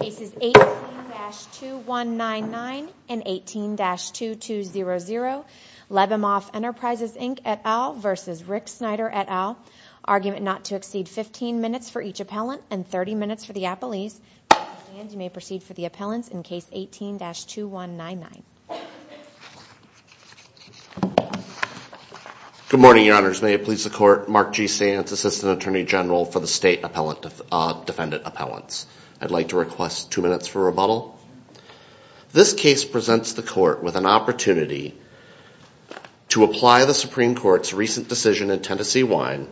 Cases 18-2199 and 18-2200 Lebamoff Enterprises Inc. et al. v. Rick Snyder et al. Argument not to exceed 15 minutes for each appellant and 30 minutes for the appellees. You may proceed for the appellants in case 18-2199. Good morning, Your Honors. May it please the Court, Mark G. Sands, Assistant Attorney General for the State Defendant Appellants. I'd like to request two minutes for rebuttal. This case presents the Court with an opportunity to apply the Supreme Court's recent decision in Tennessee Wine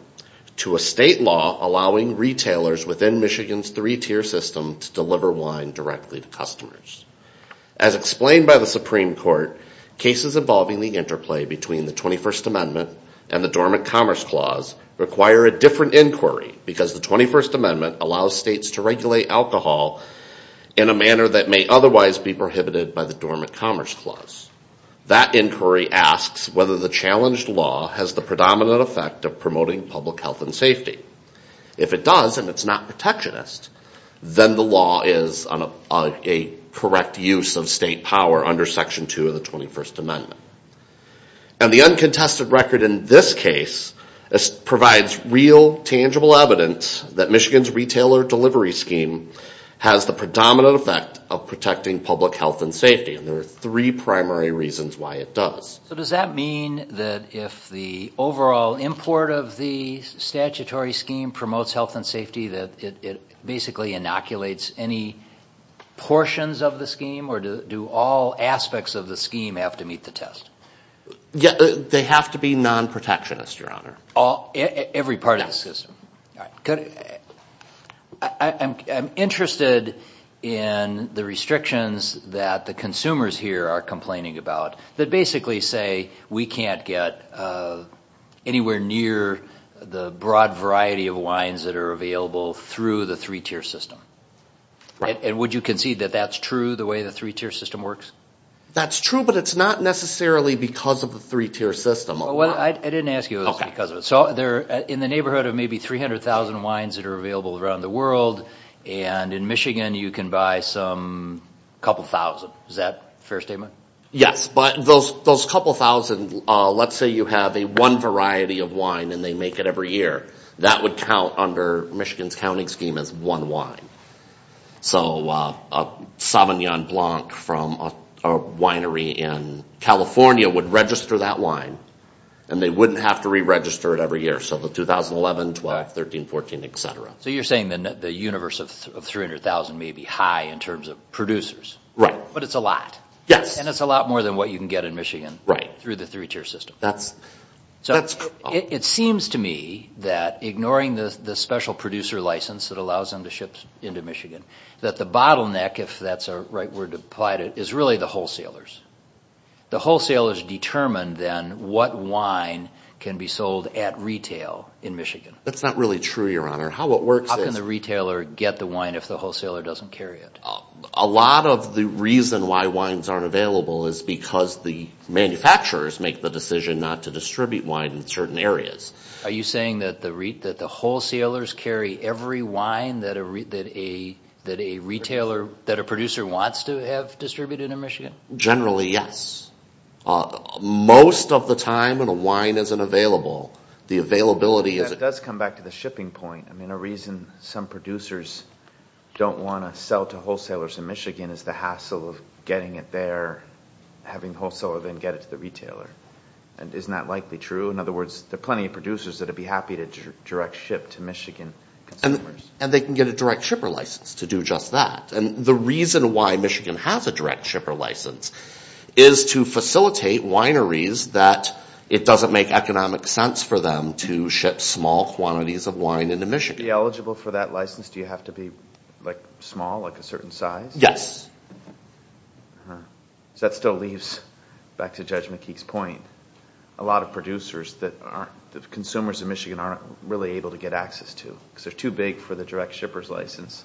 to a state law allowing retailers within Michigan's three-tier system to deliver wine directly to customers. As explained by the Supreme Court, cases involving the interplay between the 21st Amendment and the Dormant Commerce Clause require a different inquiry because the 21st Amendment allows states to regulate alcohol in a manner that may otherwise be prohibited by the Dormant Commerce Clause. That inquiry asks whether the challenged law has the predominant effect of promoting public health and safety. If it does, and it's not protectionist, then the law is a correct use of state power under Section 2 of the 21st Amendment. And the uncontested record in this case provides real, tangible evidence that Michigan's retailer delivery scheme has the predominant effect of protecting public health and safety, and there are three primary reasons why it does. So does that mean that if the overall import of the statutory scheme promotes health and safety, that it basically inoculates any portions of the scheme, or do all aspects of the scheme have to meet the test? They have to be non-protectionist, Your Honor. Every part of the system. I'm interested in the restrictions that the consumers here are complaining about that basically say we can't get anywhere near the broad variety of wines that are available through the three-tier system. And would you concede that that's true, the way the three-tier system works? That's true, but it's not necessarily because of the three-tier system. I didn't ask you if it was because of it. So they're in the neighborhood of maybe 300,000 wines that are available around the world, and in Michigan you can buy some couple thousand. Is that a fair statement? Yes, but those couple thousand, let's say you have one variety of wine and they make it every year, that would count under Michigan's counting scheme as one wine. So a Sauvignon Blanc from a winery in California would register that wine, and they wouldn't have to re-register it every year. So the 2011, 12, 13, 14, et cetera. So you're saying that the universe of 300,000 may be high in terms of producers. Right. But it's a lot. Yes. And it's a lot more than what you can get in Michigan through the three-tier system. It seems to me that, ignoring the special producer license that allows them to ship into Michigan, that the bottleneck, if that's the right word to apply to it, is really the wholesalers. The wholesalers determine then what wine can be sold at retail in Michigan. That's not really true, Your Honor. How can the retailer get the wine if the wholesaler doesn't carry it? A lot of the reason why wines aren't available is because the manufacturers make the decision not to distribute wine in certain areas. Are you saying that the wholesalers carry every wine that a retailer, that a producer wants to have distributed in Michigan? Generally, yes. Most of the time when a wine isn't available, the availability is. That does come back to the shipping point. I mean, a reason some producers don't want to sell to wholesalers in Michigan is the hassle of getting it there, having the wholesaler then get it to the retailer. Isn't that likely true? In other words, there are plenty of producers that would be happy to direct ship to Michigan. And they can get a direct shipper license to do just that. And the reason why Michigan has a direct shipper license is to facilitate wineries that it doesn't make economic sense for them to ship small quantities of wine into Michigan. To be eligible for that license, do you have to be small, like a certain size? Yes. That still leaves back to Judge McKeek's point. A lot of producers, the consumers in Michigan aren't really able to get access to because they're too big for the direct shippers license.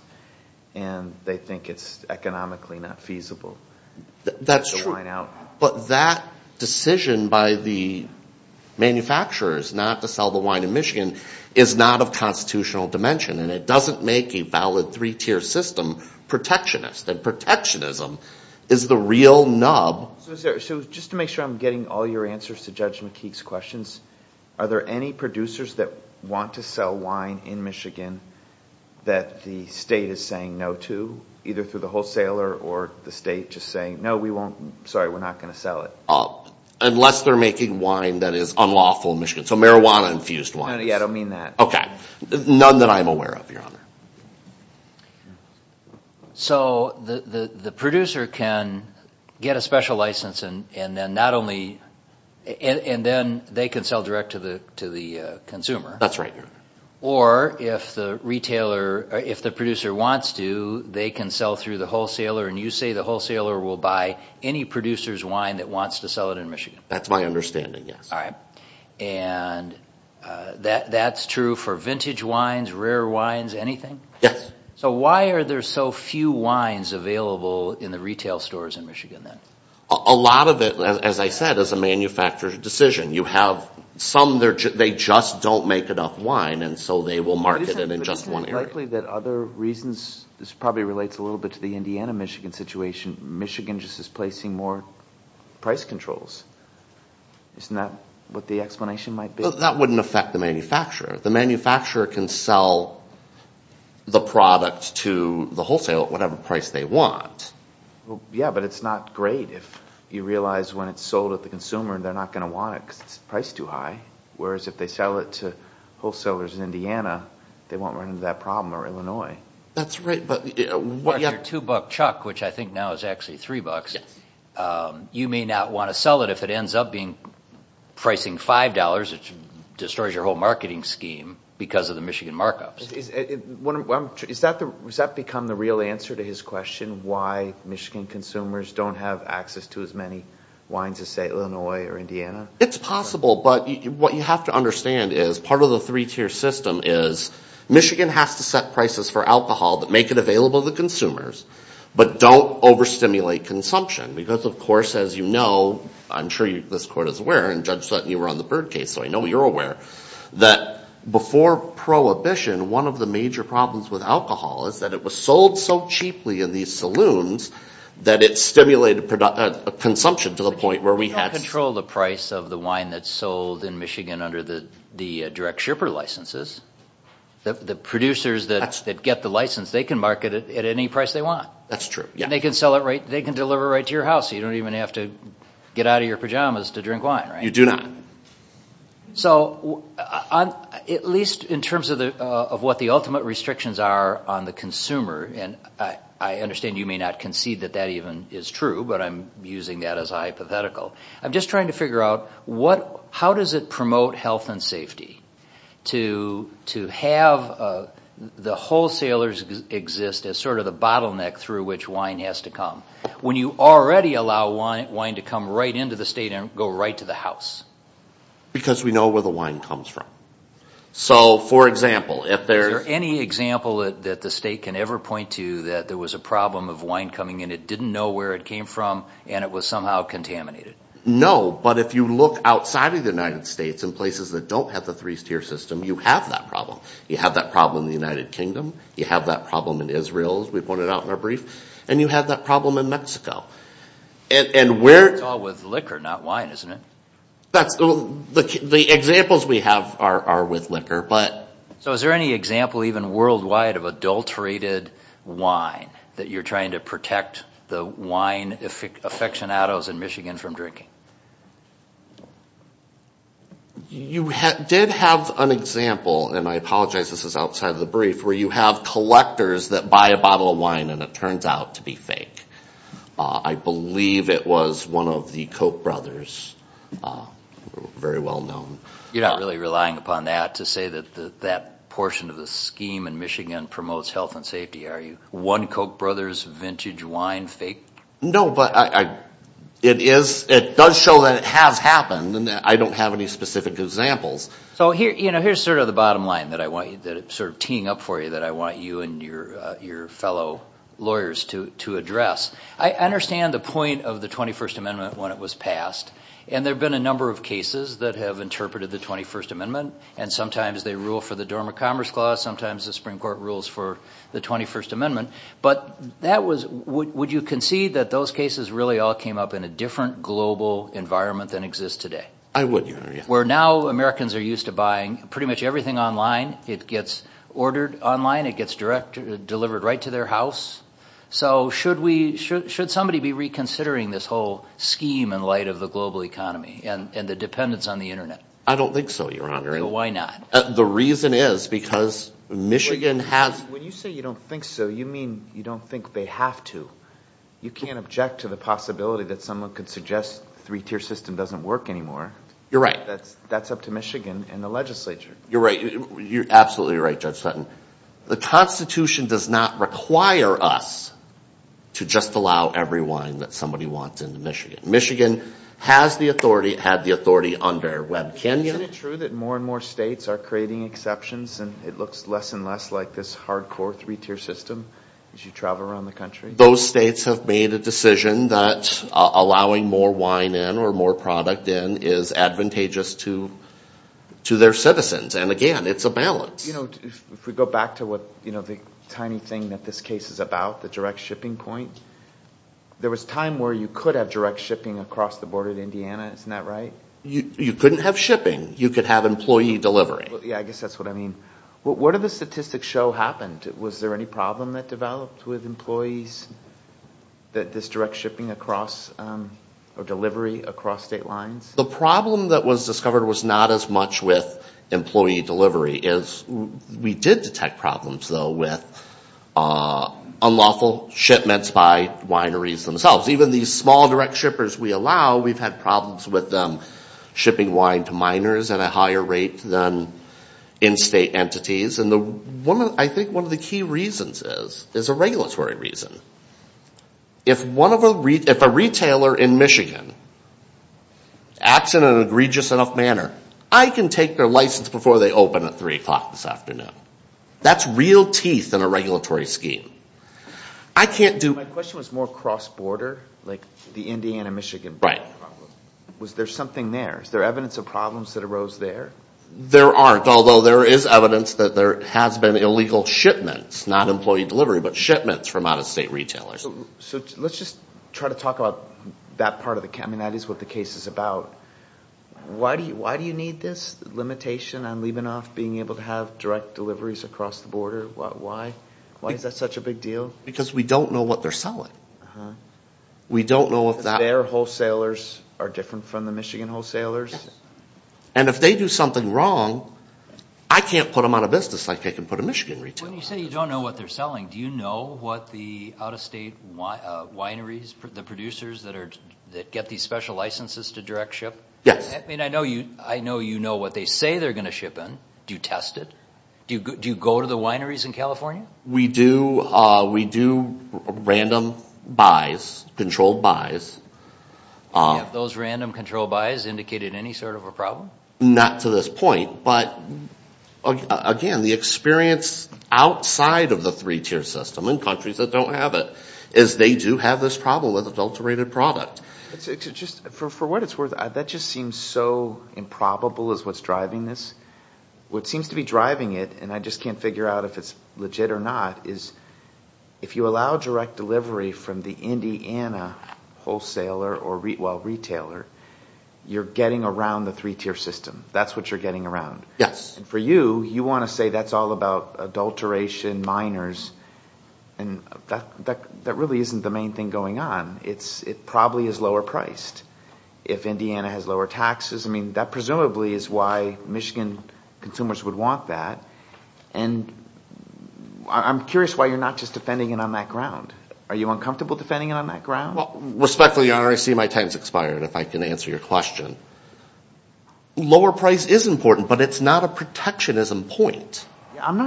And they think it's economically not feasible. That's true. The intention by the manufacturers not to sell the wine in Michigan is not of constitutional dimension. And it doesn't make a valid three-tier system protectionist. And protectionism is the real nub. So just to make sure I'm getting all your answers to Judge McKeek's questions, are there any producers that want to sell wine in Michigan that the state is saying no to, either through the wholesaler or the state just saying, no, we won't, sorry, we're not going to sell it? Unless they're making wine that is unlawful in Michigan, so marijuana-infused wine. I don't mean that. Okay. None that I'm aware of, Your Honor. So the producer can get a special license and then not only, and then they can sell direct to the consumer. That's right, Your Honor. Or if the retailer, if the producer wants to, they can sell through the wholesaler and you say the wholesaler will buy any producer's wine that wants to sell it in Michigan. That's my understanding, yes. All right. And that's true for vintage wines, rare wines, anything? Yes. So why are there so few wines available in the retail stores in Michigan then? A lot of it, as I said, is a manufacturer's decision. You have some, they just don't make enough wine and so they will market it in just one area. It's likely that other reasons, this probably relates a little bit to the Indiana-Michigan situation. Michigan just is placing more price controls. Isn't that what the explanation might be? That wouldn't affect the manufacturer. The manufacturer can sell the product to the wholesaler at whatever price they want. Yeah, but it's not great if you realize when it's sold at the consumer they're not going to want it because it's priced too high. Whereas if they sell it to wholesalers in Indiana, they won't run into that problem or Illinois. That's right. But you have your two-buck chuck, which I think now is actually three bucks. You may not want to sell it if it ends up pricing $5. It destroys your whole marketing scheme because of the Michigan markups. Is that become the real answer to his question, why Michigan consumers don't have access to as many wines as, say, Illinois or Indiana? It's possible, but what you have to understand is part of the three-tier system is Michigan has to set prices for alcohol that make it available to consumers, but don't overstimulate consumption because, of course, as you know, I'm sure this court is aware, and Judge Sutton, you were on the Byrd case, so I know you're aware, that before Prohibition, one of the major problems with alcohol is that it was sold so cheaply in these saloons that it stimulated consumption to the point where we had to control the price of the wine that's sold in Michigan under the direct shipper licenses. The producers that get the license, they can market it at any price they want. That's true. They can deliver it right to your house so you don't even have to get out of your pajamas to drink wine. You do not. So at least in terms of what the ultimate restrictions are on the consumer, and I understand you may not concede that that even is true, but I'm using that as a hypothetical, I'm just trying to figure out how does it promote health and safety to have the wholesalers exist as sort of the bottleneck through which wine has to come when you already allow wine to come right into the state and go right to the house? Because we know where the wine comes from. So, for example, if there's... Is there any example that the state can ever point to that there was a problem of wine coming and it didn't know where it came from and it was somehow contaminated? No, but if you look outside of the United States in places that don't have the three-tier system, you have that problem. You have that problem in the United Kingdom, you have that problem in Israel, as we pointed out in our brief, and you have that problem in Mexico. And where... It's all with liquor, not wine, isn't it? That's... The examples we have are with liquor, but... So is there any example even worldwide of adulterated wine that you're trying to protect the wine aficionados in Michigan from drinking? You did have an example, and I apologize this is outside of the brief, where you have collectors that buy a bottle of wine and it turns out to be fake. I believe it was one of the Koch brothers, very well known. You're not really relying upon that to say that that portion of the scheme in Michigan promotes health and safety, are you? One Koch brothers, vintage wine, fake? No, but it does show that it has happened, and I don't have any specific examples. So here's sort of the bottom line that I want you... Sort of teeing up for you that I want you and your fellow lawyers to address. I understand the point of the 21st Amendment when it was passed, and there have been a number of cases that have interpreted the 21st Amendment, and sometimes they rule for the Dormant Commerce Clause, sometimes the Supreme Court rules for the 21st Amendment, but would you concede that those cases really all came up in a different global environment than exists today? I wouldn't, Your Honor. Where now Americans are used to buying pretty much everything online, it gets ordered online, it gets delivered right to their house. So should somebody be reconsidering this whole scheme in light of the global economy and the dependence on the Internet? I don't think so, Your Honor. Why not? The reason is because Michigan has... When you say you don't think so, you mean you don't think they have to. You can't object to the possibility that someone could suggest the three-tier system doesn't work anymore. You're right. That's up to Michigan and the legislature. You're right. You're absolutely right, Judge Sutton. The Constitution does not require us to just allow every wine that somebody wants into Michigan. Michigan has the authority. It had the authority under Webb Canyon. Isn't it true that more and more states are creating exceptions, and it looks less and less like this hardcore three-tier system as you travel around the country? Those states have made a decision that allowing more wine in or more product in is advantageous to their citizens. And, again, it's a balance. If we go back to the tiny thing that this case is about, the direct shipping point, there was a time where you could have direct shipping across the border to Indiana. Isn't that right? You couldn't have shipping. You could have employee delivery. Yeah, I guess that's what I mean. What did the statistics show happened? Was there any problem that developed with employees, this direct shipping across or delivery across state lines? The problem that was discovered was not as much with employee delivery as we did detect problems, though, with unlawful shipments by wineries themselves. Even these small direct shippers we allow, we've had problems with them shipping wine to minors at a higher rate than in-state entities. And I think one of the key reasons is a regulatory reason. If a retailer in Michigan acts in an egregious enough manner, I can take their license before they open at 3 o'clock this afternoon. That's real teeth in a regulatory scheme. My question was more cross-border, like the Indiana-Michigan problem. Was there something there? Is there evidence of problems that arose there? There aren't, although there is evidence that there has been illegal shipments, not employee delivery, but shipments from out-of-state retailers. So let's just try to talk about that part of the case. I mean, that is what the case is about. Why do you need this limitation on Lebanoff being able to have direct deliveries across the border? Why is that such a big deal? Because we don't know what they're selling. Uh-huh. We don't know if that... Because their wholesalers are different from the Michigan wholesalers? Yes. And if they do something wrong, I can't put them out of business like I can put a Michigan retailer out of business. So when you say you don't know what they're selling, do you know what the out-of-state wineries, the producers that get these special licenses to direct ship? Yes. I mean, I know you know what they say they're going to ship in. Do you test it? Do you go to the wineries in California? We do random buys, controlled buys. Have those random controlled buys indicated any sort of a problem? Not to this point. But, again, the experience outside of the three-tier system in countries that don't have it is they do have this problem with adulterated product. For what it's worth, that just seems so improbable is what's driving this. What seems to be driving it, and I just can't figure out if it's legit or not, is if you allow direct delivery from the Indiana wholesaler or retailer, you're getting around the three-tier system. That's what you're getting around. Yes. And for you, you want to say that's all about adulteration, miners, and that really isn't the main thing going on. It probably is lower priced if Indiana has lower taxes. I mean, that presumably is why Michigan consumers would want that. And I'm curious why you're not just defending it on that ground. Are you uncomfortable defending it on that ground? Respectfully, Your Honor, I see my time has expired, if I can answer your question. Lower price is important, but it's not a protectionism point. I'm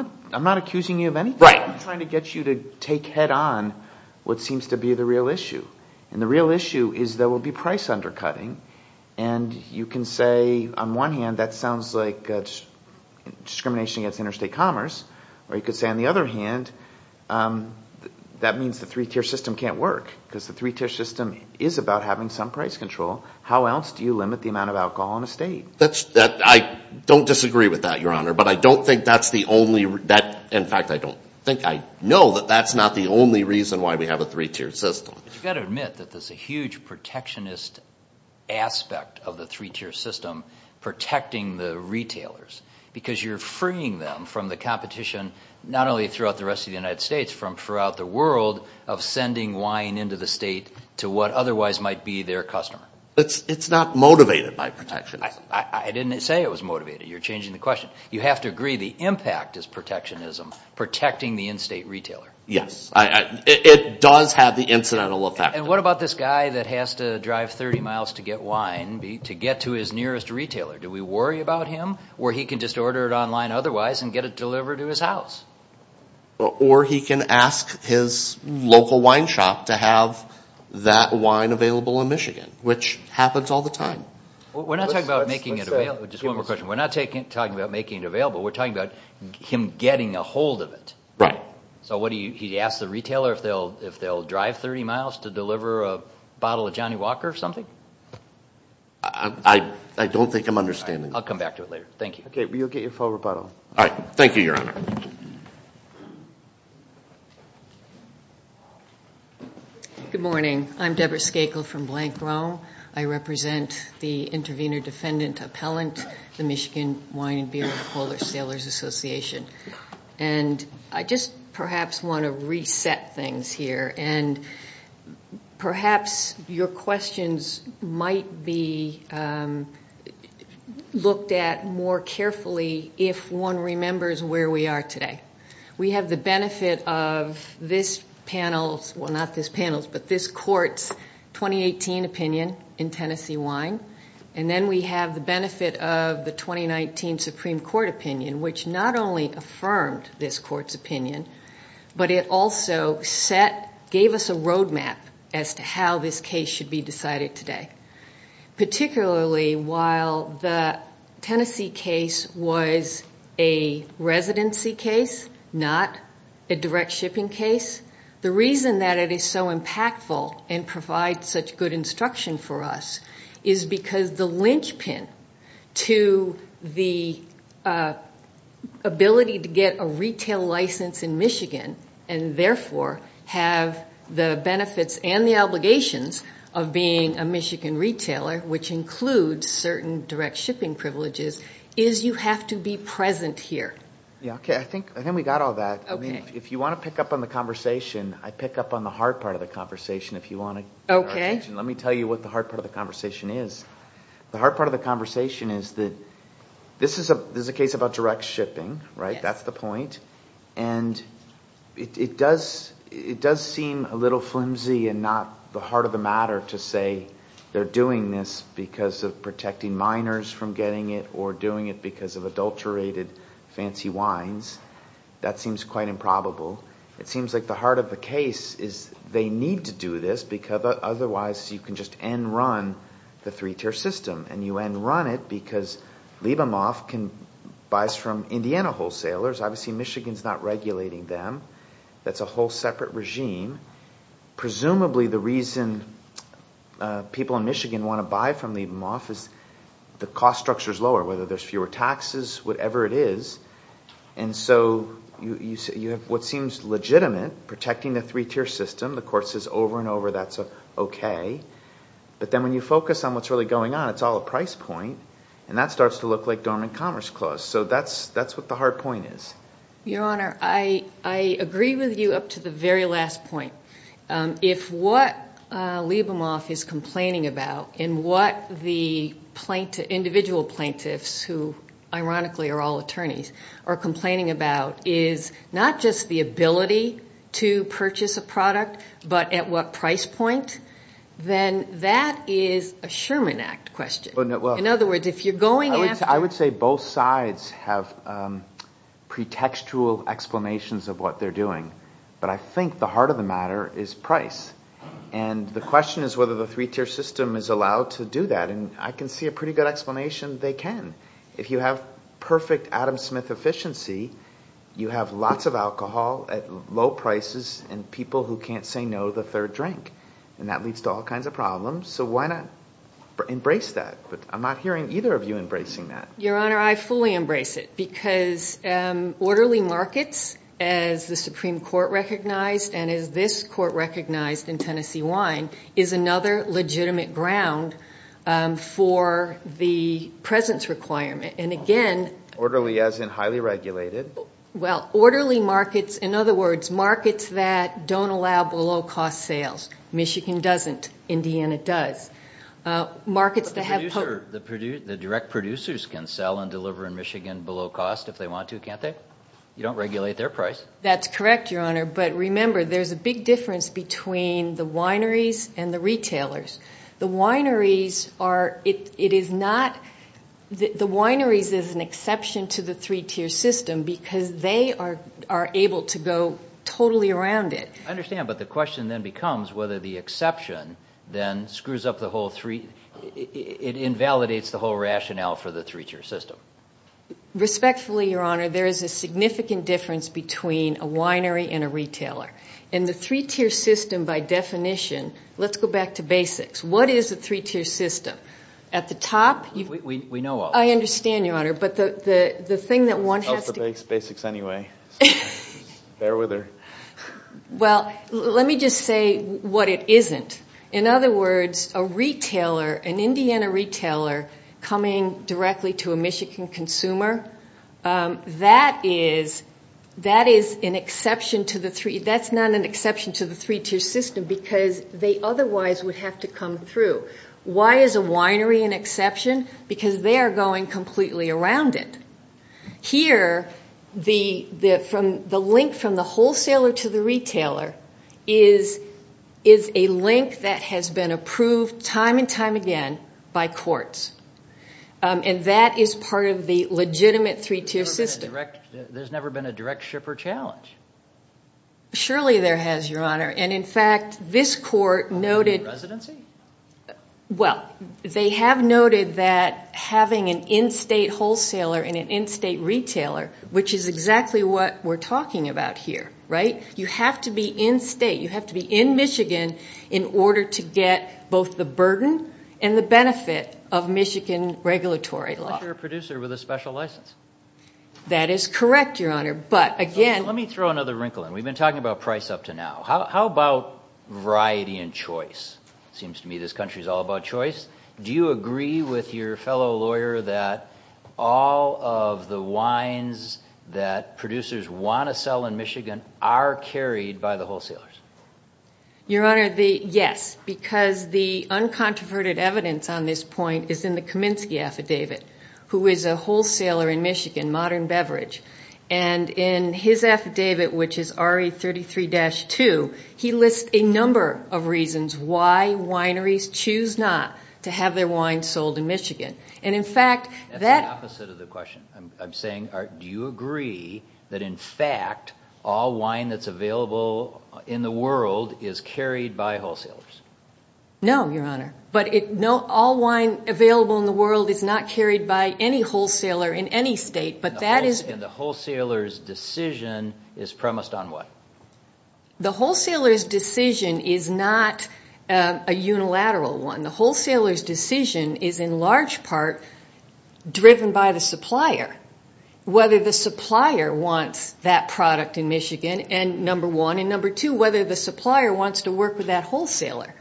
not accusing you of anything. I'm trying to get you to take head-on what seems to be the real issue. And the real issue is there will be price undercutting. And you can say, on one hand, that sounds like discrimination against interstate commerce. Or you could say, on the other hand, that means the three-tier system can't work. Because the three-tier system is about having some price control. How else do you limit the amount of alcohol in a state? I don't disagree with that, Your Honor. But I don't think that's the only – in fact, I don't think I know that that's not the only reason why we have a three-tier system. You've got to admit that there's a huge protectionist aspect of the three-tier system protecting the retailers. Because you're freeing them from the competition, not only throughout the rest of the United States, from throughout the world, of sending wine into the state to what otherwise might be their customer. It's not motivated by protectionism. I didn't say it was motivated. You're changing the question. You have to agree the impact is protectionism, protecting the in-state retailer. Yes. It does have the incidental effect. And what about this guy that has to drive 30 miles to get wine to get to his nearest retailer? Do we worry about him? Or he can just order it online otherwise and get it delivered to his house? Or he can ask his local wine shop to have that wine available in Michigan, which happens all the time. We're not talking about making it available. Just one more question. We're not talking about making it available. We're talking about him getting a hold of it. Right. So he asks the retailer if they'll drive 30 miles to deliver a bottle of Johnny Walker or something? I don't think I'm understanding that. I'll come back to it later. Thank you. Okay. You'll get your full rebuttal. All right. Thank you, Your Honor. Good morning. I'm Debra Skakel from Blank Rome. I represent the intervener-defendant appellant, the Michigan Wine and Beer and Polar Sailors Association. And I just perhaps want to reset things here. And perhaps your questions might be looked at more carefully if one remembers where we are today. We have the benefit of this panel's, well, not this panel's, but this court's 2018 opinion in Tennessee wine. And then we have the benefit of the 2019 Supreme Court opinion, which not only affirmed this court's opinion, but it also gave us a roadmap as to how this case should be decided today. Particularly while the Tennessee case was a residency case, not a direct shipping case, the reason that it is so impactful and provides such good instruction for us is because the linchpin to the ability to get a retail license in Michigan and, therefore, have the benefits and the obligations of being a Michigan retailer, which includes certain direct shipping privileges, is you have to be present here. Yeah. Okay. I think we got all that. Okay. If you want to pick up on the conversation, I pick up on the hard part of the conversation if you want to. Okay. Let me tell you what the hard part of the conversation is. The hard part of the conversation is that this is a case about direct shipping, right? Yes. That's the point. And it does seem a little flimsy and not the heart of the matter to say they're doing this because of protecting minors from getting it or doing it because of adulterated fancy wines. That seems quite improbable. It seems like the heart of the case is they need to do this because otherwise you can just end run the three-tier system. And you end run it because Libemoff buys from Indiana wholesalers. Obviously Michigan is not regulating them. That's a whole separate regime. Presumably the reason people in Michigan want to buy from Libemoff is the cost structure is lower, whether there's fewer taxes, whatever it is. And so you have what seems legitimate, protecting the three-tier system. The court says over and over that's okay. But then when you focus on what's really going on, it's all a price point, and that starts to look like dormant commerce clause. So that's what the hard point is. Your Honor, I agree with you up to the very last point. If what Libemoff is complaining about and what the individual plaintiffs, who ironically are all attorneys, are complaining about is not just the ability to purchase a product but at what price point, then that is a Sherman Act question. In other words, if you're going after ‑‑ I would say both sides have pretextual explanations of what they're doing. But I think the heart of the matter is price. And the question is whether the three-tier system is allowed to do that. And I can see a pretty good explanation they can. If you have perfect Adam Smith efficiency, you have lots of alcohol at low prices and people who can't say no to the third drink. And that leads to all kinds of problems. So why not embrace that? But I'm not hearing either of you embracing that. Your Honor, I fully embrace it because orderly markets, as the Supreme Court recognized and as this court recognized in Tennessee Wine, is another legitimate ground for the presence requirement. And again ‑‑ Orderly as in highly regulated? Well, orderly markets, in other words, markets that don't allow below‑cost sales. Michigan doesn't. Indiana does. But the direct producers can sell and deliver in Michigan below cost if they want to, can't they? You don't regulate their price. That's correct, Your Honor. But remember, there's a big difference between the wineries and the retailers. The wineries are ‑‑ it is not ‑‑ the wineries is an exception to the three-tier system because they are able to go totally around it. I understand. But the question then becomes whether the exception then screws up the whole three ‑‑ it invalidates the whole rationale for the three-tier system. Respectfully, Your Honor, there is a significant difference between a winery and a retailer. And the three-tier system, by definition, let's go back to basics. What is a three-tier system? At the top ‑‑ We know all that. I understand, Your Honor. But the thing that one has to ‑‑ I like the basics anyway. Bear with her. Well, let me just say what it isn't. In other words, a retailer, an Indiana retailer coming directly to a Michigan consumer, that is an exception to the three ‑‑ that's not an exception to the three-tier system because they otherwise would have to come through. Why is a winery an exception? Because they are going completely around it. Here, the link from the wholesaler to the retailer is a link that has been approved time and time again by courts. And that is part of the legitimate three-tier system. There's never been a direct shipper challenge. Surely there has, Your Honor. And, in fact, this court noted ‑‑ Residency? Well, they have noted that having an in‑state wholesaler and an in‑state retailer, which is exactly what we're talking about here, right? You have to be in‑state. You have to be in Michigan in order to get both the burden and the benefit of Michigan regulatory law. Unless you're a producer with a special license. That is correct, Your Honor. But, again ‑‑ Let me throw another wrinkle in. We've been talking about price up to now. How about variety and choice? It seems to me this country is all about choice. Do you agree with your fellow lawyer that all of the wines that producers want to sell in Michigan are carried by the wholesalers? Your Honor, yes. Because the uncontroverted evidence on this point is in the Kaminsky Affidavit, who is a wholesaler in Michigan, Modern Beverage. And in his affidavit, which is RE33‑2, he lists a number of reasons why wineries choose not to have their wines sold in Michigan. And, in fact, that ‑‑ That's the opposite of the question. I'm saying, do you agree that, in fact, all wine that's available in the world is carried by wholesalers? No, Your Honor. But all wine available in the world is not carried by any wholesaler in any state. And the wholesaler's decision is premised on what? The wholesaler's decision is not a unilateral one. The wholesaler's decision is, in large part, driven by the supplier, whether the supplier wants that product in Michigan, number one. And, number two, whether the supplier wants to work with that wholesaler.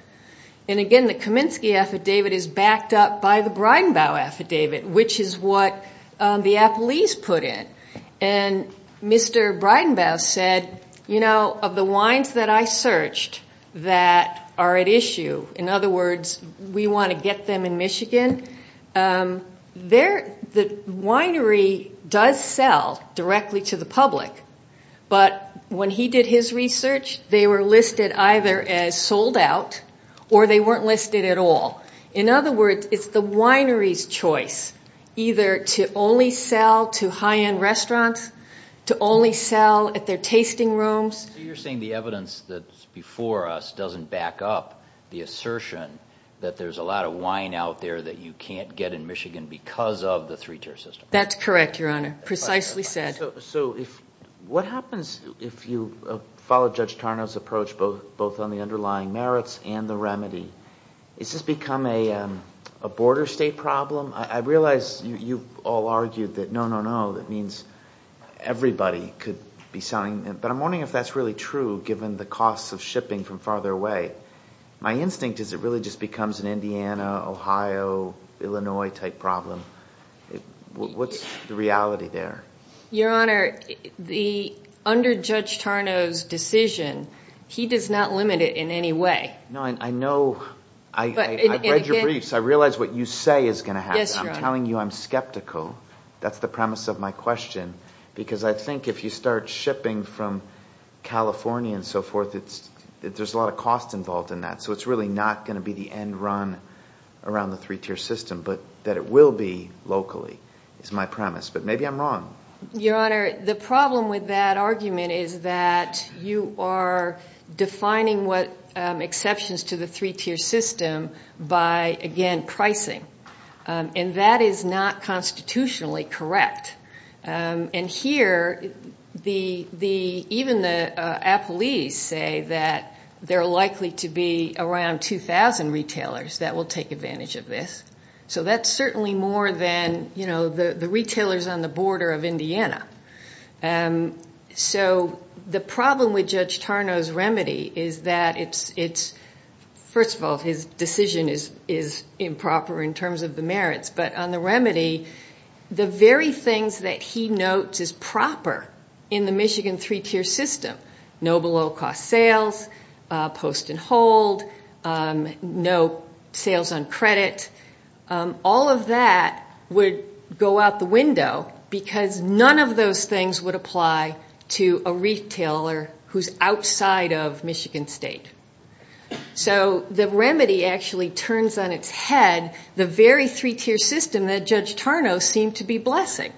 And, again, the Kaminsky Affidavit is backed up by the Breidenbau Affidavit, which is what the Appleese put in. And Mr. Breidenbau said, you know, of the wines that I searched that are at issue, in other words, we want to get them in Michigan, the winery does sell directly to the public, but when he did his research, they were listed either as sold out or they weren't listed at all. In other words, it's the winery's choice either to only sell to high-end restaurants, to only sell at their tasting rooms. So you're saying the evidence that's before us doesn't back up the assertion that there's a lot of wine out there that you can't get in Michigan because of the three-tier system? That's correct, Your Honor, precisely said. So what happens if you follow Judge Tarnow's approach both on the underlying merits and the remedy? Does this become a border state problem? I realize you've all argued that no, no, no, that means everybody could be selling. But I'm wondering if that's really true given the costs of shipping from farther away. My instinct is it really just becomes an Indiana, Ohio, Illinois-type problem. What's the reality there? Your Honor, under Judge Tarnow's decision, he does not limit it in any way. I know. I read your briefs. I realize what you say is going to happen. I'm telling you I'm skeptical. That's the premise of my question because I think if you start shipping from California and so forth, there's a lot of cost involved in that. So it's really not going to be the end run around the three-tier system, but that it will be locally is my premise. But maybe I'm wrong. Your Honor, the problem with that argument is that you are defining what exceptions to the three-tier system by, again, pricing. And that is not constitutionally correct. And here, even the appellees say that there are likely to be around 2,000 retailers that will take advantage of this. So that's certainly more than the retailers on the border of Indiana. So the problem with Judge Tarnow's remedy is that it's, first of all, his decision is improper in terms of the merits. But on the remedy, the very things that he notes is proper in the Michigan three-tier system, no below-cost sales, post and hold, no sales on credit. All of that would go out the window because none of those things would apply to a retailer who's outside of Michigan State. So the remedy actually turns on its head the very three-tier system that Judge Tarnow seemed to be blessing,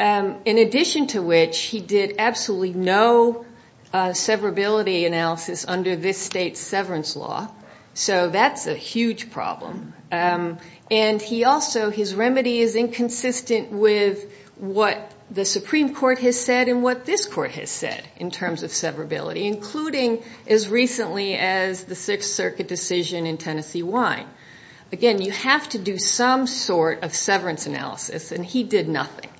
in addition to which he did absolutely no severability analysis under this state's severance law. So that's a huge problem. And he also, his remedy is inconsistent with what the Supreme Court has said and what this court has said in terms of severability, including as recently as the Sixth Circuit decision in Tennessee Wine. Again, you have to do some sort of severance analysis, and he did nothing.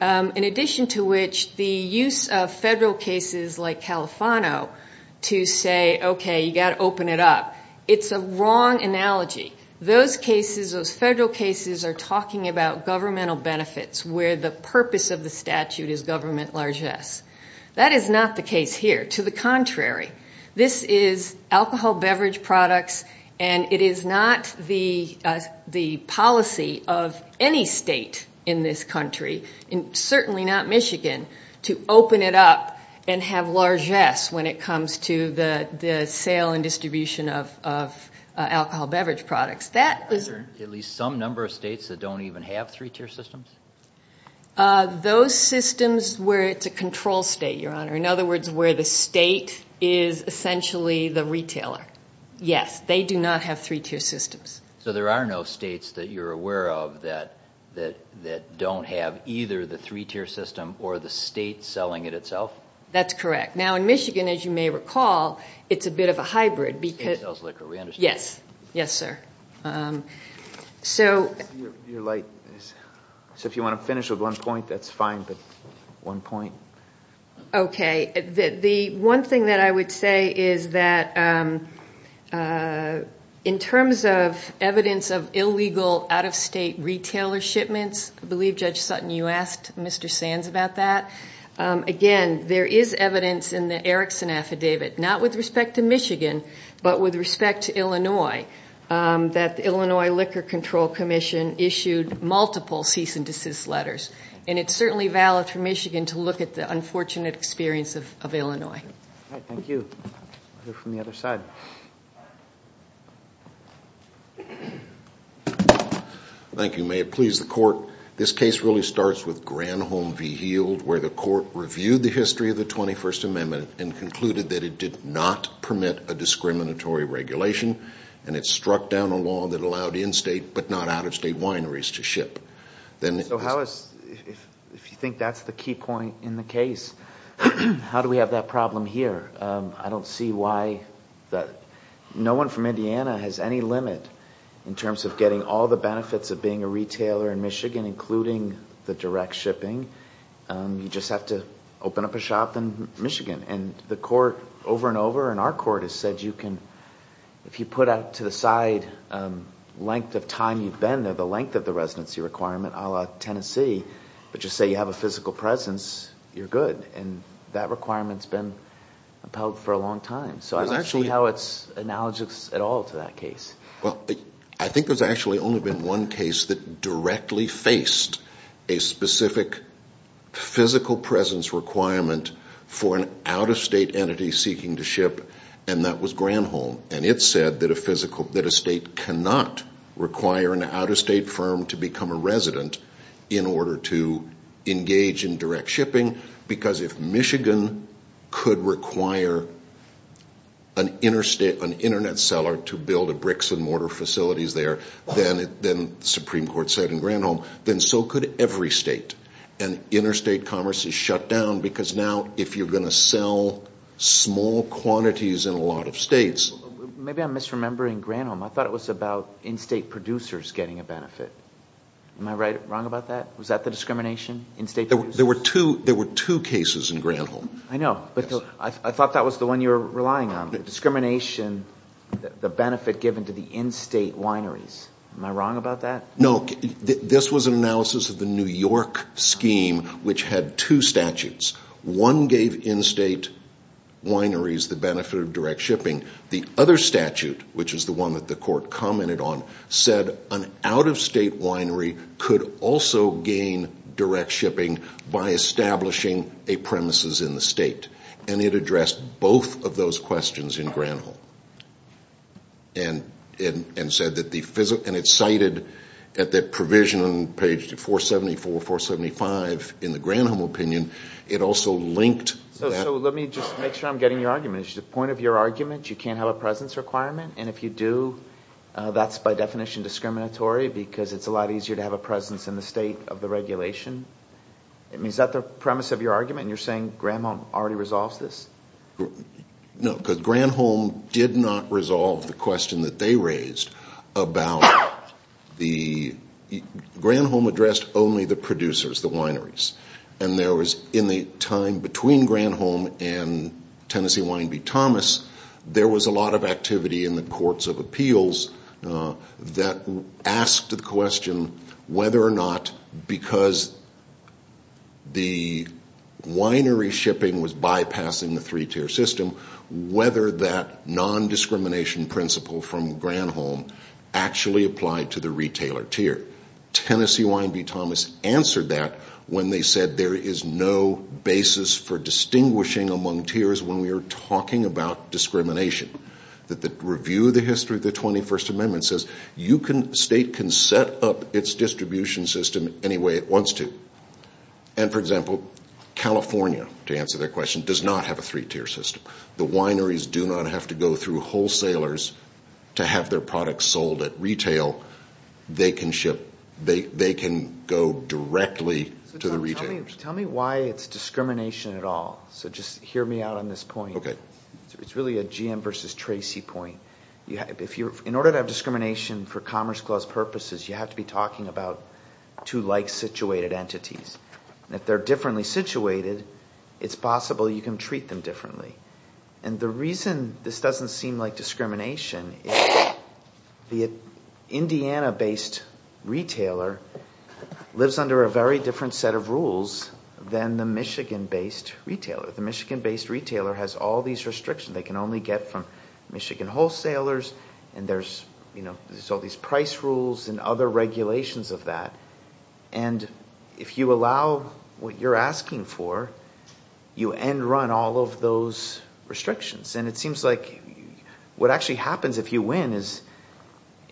In addition to which, the use of federal cases like Califano to say, okay, you've got to open it up, it's a wrong analogy. Those cases, those federal cases are talking about governmental benefits where the purpose of the statute is government largesse. That is not the case here. To the contrary, this is alcohol beverage products, and it is not the policy of any state in this country, certainly not Michigan, to open it up and have largesse when it comes to the sale and distribution of alcohol beverage products. Are there at least some number of states that don't even have three-tier systems? Those systems where it's a control state, Your Honor. In other words, where the state is essentially the retailer. Yes, they do not have three-tier systems. So there are no states that you're aware of that don't have either the three-tier system or the state selling it itself? That's correct. Now, in Michigan, as you may recall, it's a bit of a hybrid. The state sells liquor, we understand. Yes. Yes, sir. So if you want to finish with one point, that's fine, but one point. Okay. The one thing that I would say is that in terms of evidence of illegal out-of-state retailer shipments, I believe, Judge Sutton, you asked Mr. Sands about that. Again, there is evidence in the Erickson Affidavit, not with respect to Michigan, but with respect to Illinois, that the Illinois Liquor Control Commission issued multiple cease and desist letters. And it's certainly valid for Michigan to look at the unfortunate experience of Illinois. All right. Thank you. We'll hear from the other side. Thank you. May it please the Court. This case really starts with Granholm v. Heald, where the Court reviewed the history of the 21st Amendment and concluded that it did not permit a discriminatory regulation, and it struck down a law that allowed in-state but not out-of-state wineries to ship. So if you think that's the key point in the case, how do we have that problem here? I don't see why. No one from Indiana has any limit in terms of getting all the benefits of being a retailer in Michigan, including the direct shipping. You just have to open up a shop in Michigan. And the Court over and over, and our Court, has said you can, if you put out to the side length of time you've been there, the length of the residency requirement, a la Tennessee, but just say you have a physical presence, you're good. And that requirement's been upheld for a long time. So I don't see how it's analogous at all to that case. Well, I think there's actually only been one case that directly faced a specific physical presence requirement for an out-of-state entity seeking to ship, and that was Granholm. And it said that a state cannot require an out-of-state firm to become a resident in order to engage in direct shipping, because if Michigan could require an Internet seller to build a bricks-and-mortar facility there, then the Supreme Court said in Granholm, then so could every state. And interstate commerce is shut down, because now if you're going to sell small quantities in a lot of states. Maybe I'm misremembering Granholm. I thought it was about in-state producers getting a benefit. Am I wrong about that? Was that the discrimination, in-state producers? There were two cases in Granholm. I know, but I thought that was the one you were relying on, the discrimination, the benefit given to the in-state wineries. Am I wrong about that? No, this was an analysis of the New York scheme, which had two statutes. One gave in-state wineries the benefit of direct shipping. The other statute, which is the one that the court commented on, said an out-of-state winery could also gain direct shipping by establishing a premises in the state, and it addressed both of those questions in Granholm. And it cited that provision on page 474, 475 in the Granholm opinion. It also linked that. So let me just make sure I'm getting your argument. Is the point of your argument you can't have a presence requirement, and if you do, that's by definition discriminatory, because it's a lot easier to have a presence in the state of the regulation? I mean, is that the premise of your argument, and you're saying Granholm already resolves this? No, because Granholm did not resolve the question that they raised about the ñ Granholm addressed only the producers, the wineries. And there was, in the time between Granholm and Tennessee Wine v. Thomas, there was a lot of activity in the courts of appeals that asked the question whether or not, because the winery shipping was bypassing the three-tier system, whether that nondiscrimination principle from Granholm actually applied to the retailer tier. Tennessee Wine v. Thomas answered that when they said there is no basis for distinguishing among tiers when we are talking about discrimination. The review of the history of the 21st Amendment says the state can set up its distribution system any way it wants to. And, for example, California, to answer their question, does not have a three-tier system. The wineries do not have to go through wholesalers to have their products sold at retail. They can go directly to the retailers. Tell me why it's discrimination at all. So just hear me out on this point. It's really a GM versus Tracy point. In order to have discrimination for Commerce Clause purposes, you have to be talking about two like-situated entities. If they're differently situated, it's possible you can treat them differently. And the reason this doesn't seem like discrimination is the Indiana-based retailer lives under a very different set of rules than the Michigan-based retailer. The Michigan-based retailer has all these restrictions. They can only get from Michigan wholesalers, and there's all these price rules and other regulations of that. And if you allow what you're asking for, you end-run all of those restrictions. And it seems like what actually happens if you win is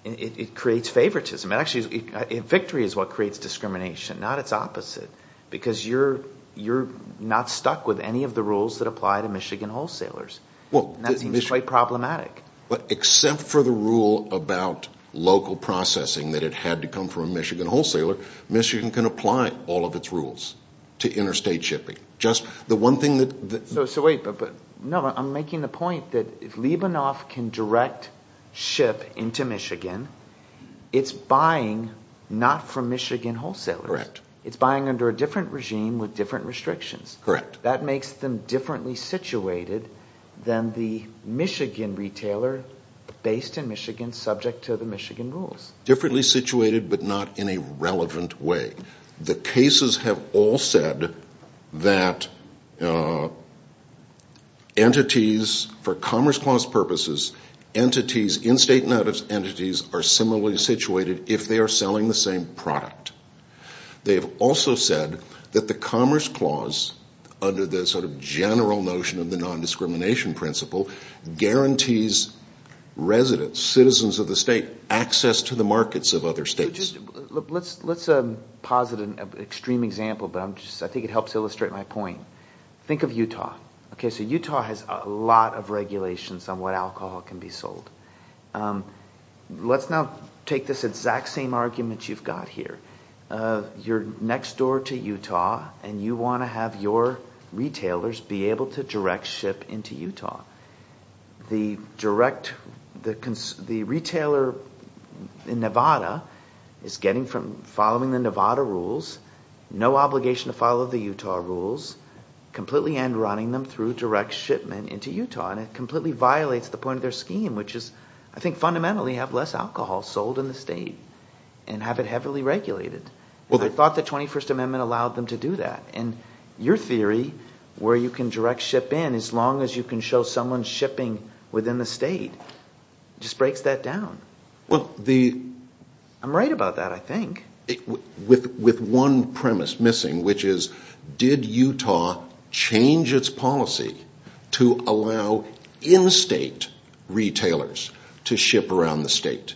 it creates favoritism. Victory is what creates discrimination, not its opposite, because you're not stuck with any of the rules that apply to Michigan wholesalers. And that seems quite problematic. Except for the rule about local processing that it had to come from a Michigan wholesaler, Michigan can apply all of its rules to interstate shipping. I'm making the point that if Libanov can direct ship into Michigan, it's buying not from Michigan wholesalers. It's buying under a different regime with different restrictions. That makes them differently situated than the Michigan retailer based in Michigan subject to the Michigan rules. Differently situated but not in a relevant way. The cases have all said that entities, for Commerce Clause purposes, entities, in-state and out-of-state entities, are similarly situated if they are selling the same product. They have also said that the Commerce Clause, under the sort of general notion of the nondiscrimination principle, guarantees residents, citizens of the state, access to the markets of other states. Let's posit an extreme example, but I think it helps illustrate my point. Think of Utah. So Utah has a lot of regulations on what alcohol can be sold. Let's now take this exact same argument you've got here. You're next door to Utah and you want to have your retailers be able to direct ship into Utah. The retailer in Nevada is following the Nevada rules, no obligation to follow the Utah rules, completely and running them through direct shipment into Utah. It completely violates the point of their scheme, which is I think fundamentally have less alcohol sold in the state and have it heavily regulated. I thought the 21st Amendment allowed them to do that. Your theory, where you can direct ship in as long as you can show someone shipping within the state, just breaks that down. I'm right about that, I think. With one premise missing, which is did Utah change its policy to allow in-state retailers to ship around the state?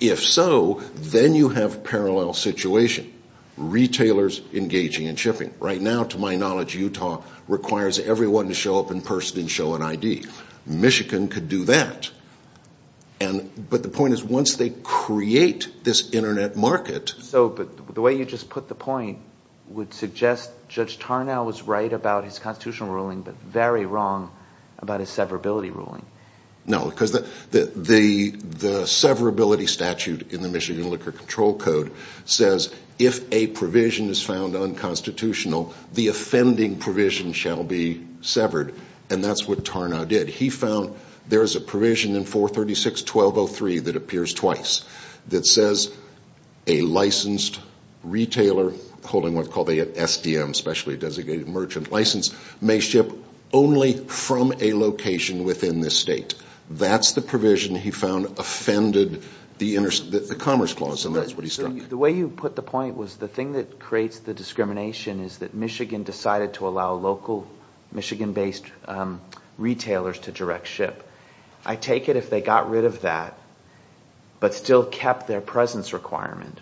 If so, then you have a parallel situation. Retailers engaging in shipping. Right now, to my knowledge, Utah requires everyone to show up in person and show an ID. Michigan could do that. But the point is once they create this internet market – But the way you just put the point would suggest Judge Tarnow was right about his constitutional ruling but very wrong about his severability ruling. No, because the severability statute in the Michigan Liquor Control Code says if a provision is found unconstitutional, the offending provision shall be severed. And that's what Tarnow did. He found there's a provision in 436.1203 that appears twice that says a licensed retailer holding what they call the SDM, specially designated merchant license, may ship only from a location within the state. That's the provision he found offended the Commerce Clause, and that's what he struck. The way you put the point was the thing that creates the discrimination is that Michigan decided to allow local Michigan-based retailers to direct ship. I take it if they got rid of that but still kept their presence requirement.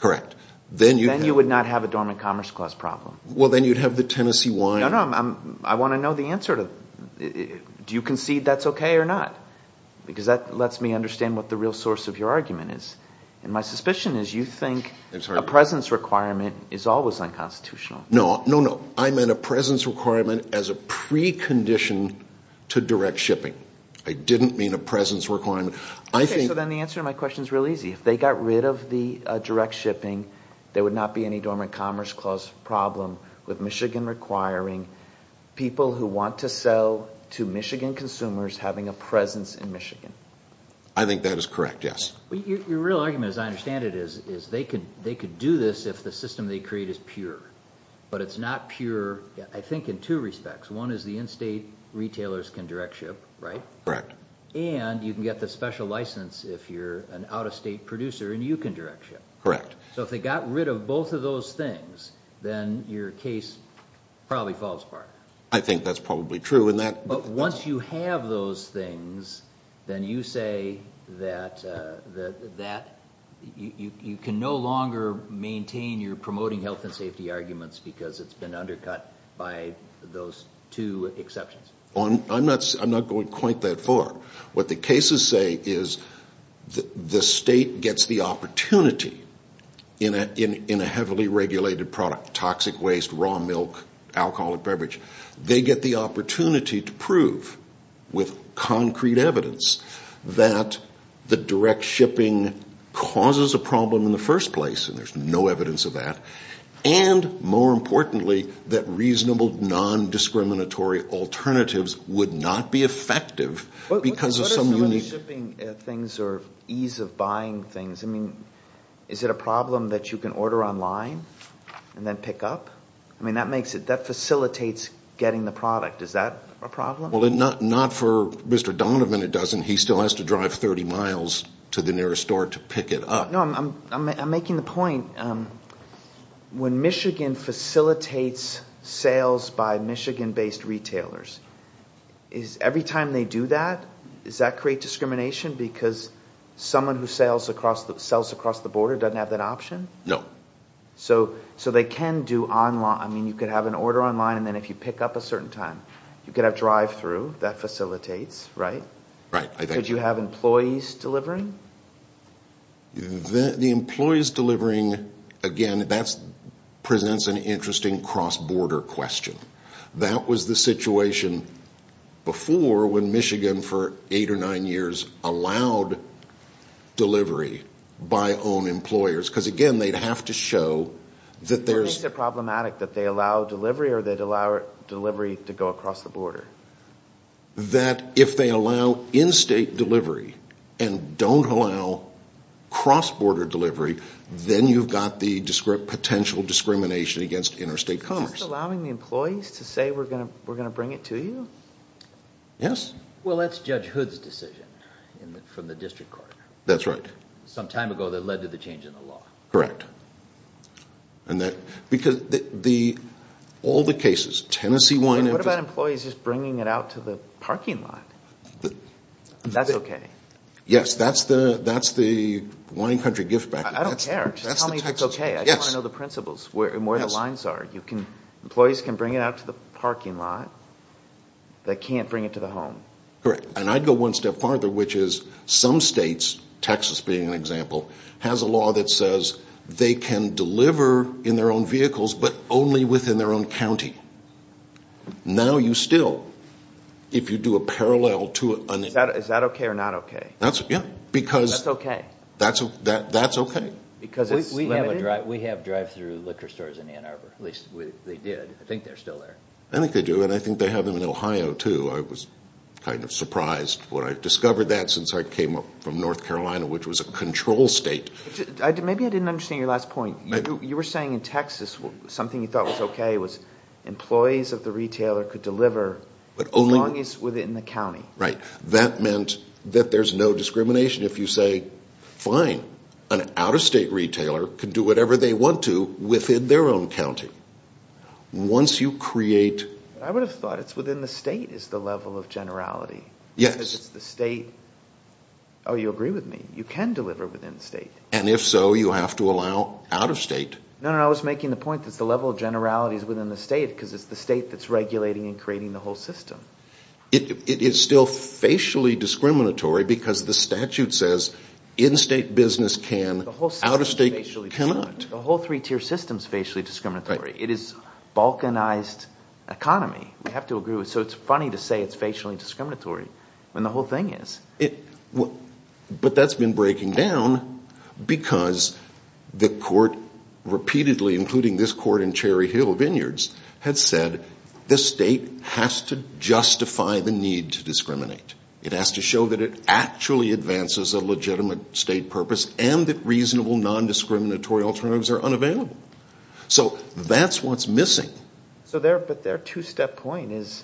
Correct. Then you would not have a dormant Commerce Clause problem. Well, then you'd have the Tennessee wine. I want to know the answer. Do you concede that's okay or not? Because that lets me understand what the real source of your argument is. And my suspicion is you think a presence requirement is always unconstitutional. No, no, no. I meant a presence requirement as a precondition to direct shipping. I didn't mean a presence requirement. Okay, so then the answer to my question is real easy. If they got rid of the direct shipping, there would not be any dormant Commerce Clause problem with Michigan requiring people who want to sell to Michigan consumers having a presence in Michigan. I think that is correct, yes. Your real argument, as I understand it, is they could do this if the system they create is pure. But it's not pure, I think, in two respects. One is the in-state retailers can direct ship, right? Correct. And you can get the special license if you're an out-of-state producer and you can direct ship. Correct. So if they got rid of both of those things, then your case probably falls apart. I think that's probably true. But once you have those things, then you say that you can no longer maintain your promoting health and safety arguments because it's been undercut by those two exceptions. I'm not going quite that far. What the cases say is the state gets the opportunity in a heavily regulated product, toxic waste, raw milk, alcoholic beverage. They get the opportunity to prove with concrete evidence that the direct shipping causes a problem in the first place, and there's no evidence of that. And, more importantly, that reasonable non-discriminatory alternatives would not be effective because of some unique – What is the shipping things or ease of buying things? I mean, is it a problem that you can order online and then pick up? I mean, that makes it – that facilitates getting the product. Is that a problem? Well, not for Mr. Donovan it doesn't. He still has to drive 30 miles to the nearest store to pick it up. No, I'm making the point. When Michigan facilitates sales by Michigan-based retailers, every time they do that, does that create discrimination because someone who sells across the border doesn't have that option? No. So they can do – I mean, you could have an order online, and then if you pick up a certain time, you could have drive-through. That facilitates, right? Right. Could you have employees delivering? The employees delivering, again, that presents an interesting cross-border question. That was the situation before when Michigan for eight or nine years allowed delivery by own employers because, again, they'd have to show that there's – What makes it problematic, that they allow delivery or they'd allow delivery to go across the border? That if they allow in-state delivery and don't allow cross-border delivery, then you've got the potential discrimination against interstate commerce. Is this allowing the employees to say, we're going to bring it to you? Yes. Well, that's Judge Hood's decision from the district court. That's right. Some time ago that led to the change in the law. Correct. And that – because all the cases, Tennessee- What about employees just bringing it out to the parking lot? That's okay. Yes. That's the wine country gift package. I don't care. Just tell me if it's okay. I want to know the principles and where the lines are. Employees can bring it out to the parking lot. They can't bring it to the home. Correct. And I'd go one step farther, which is some states – Texas being an example – has a law that says they can deliver in their own vehicles but only within their own county. Now you still – if you do a parallel to an – Is that okay or not okay? Yes. Because – That's okay. That's okay. Because it's limited? We have drive-through liquor stores in Ann Arbor. At least they did. I think they're still there. I think they do, and I think they have them in Ohio, too. I was kind of surprised when I discovered that since I came up from North Carolina, which was a control state. Maybe I didn't understand your last point. You were saying in Texas something you thought was okay was employees of the retailer could deliver as long as within the county. Right. That meant that there's no discrimination if you say, fine, an out-of-state retailer can do whatever they want to within their own county. Once you create – I would have thought it's within the state is the level of generality. Yes. Because it's the state – oh, you agree with me. You can deliver within the state. And if so, you have to allow out-of-state. No, no, no. I was making the point that it's the level of generality is within the state because it's the state that's regulating and creating the whole system. It is still facially discriminatory because the statute says in-state business can, out-of-state cannot. The whole three-tier system is facially discriminatory. It is balkanized economy. We have to agree with – so it's funny to say it's facially discriminatory when the whole thing is. But that's been breaking down because the court repeatedly, including this court in Cherry Hill Vineyards, had said the state has to justify the need to discriminate. It has to show that it actually advances a legitimate state purpose and that reasonable nondiscriminatory alternatives are unavailable. So that's what's missing. But their two-step point is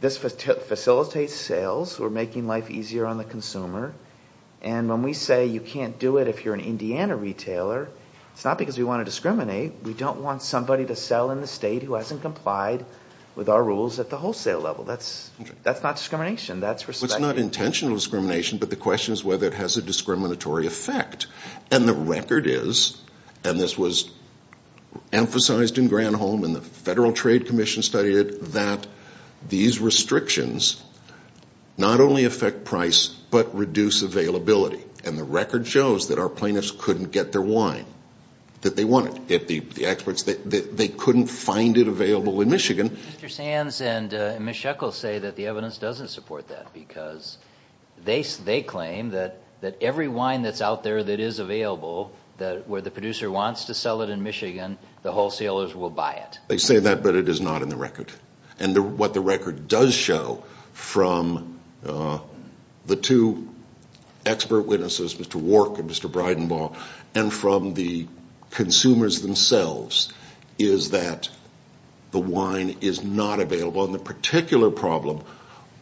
this facilitates sales. We're making life easier on the consumer. And when we say you can't do it if you're an Indiana retailer, it's not because we want to discriminate. We don't want somebody to sell in the state who hasn't complied with our rules at the wholesale level. That's not discrimination. That's respectability. It's not intentional discrimination, but the question is whether it has a discriminatory effect. And the record is, and this was emphasized in Granholm and the Federal Trade Commission studied it, that these restrictions not only affect price but reduce availability. And the record shows that our plaintiffs couldn't get their wine that they wanted. The experts, they couldn't find it available in Michigan. Mr. Sands and Ms. Shekels say that the evidence doesn't support that because they claim that every wine that's out there that is available where the producer wants to sell it in Michigan, the wholesalers will buy it. They say that, but it is not in the record. And what the record does show from the two expert witnesses, Mr. Wark and Mr. Bridenbaugh, and from the consumers themselves, is that the wine is not available. And the particular problem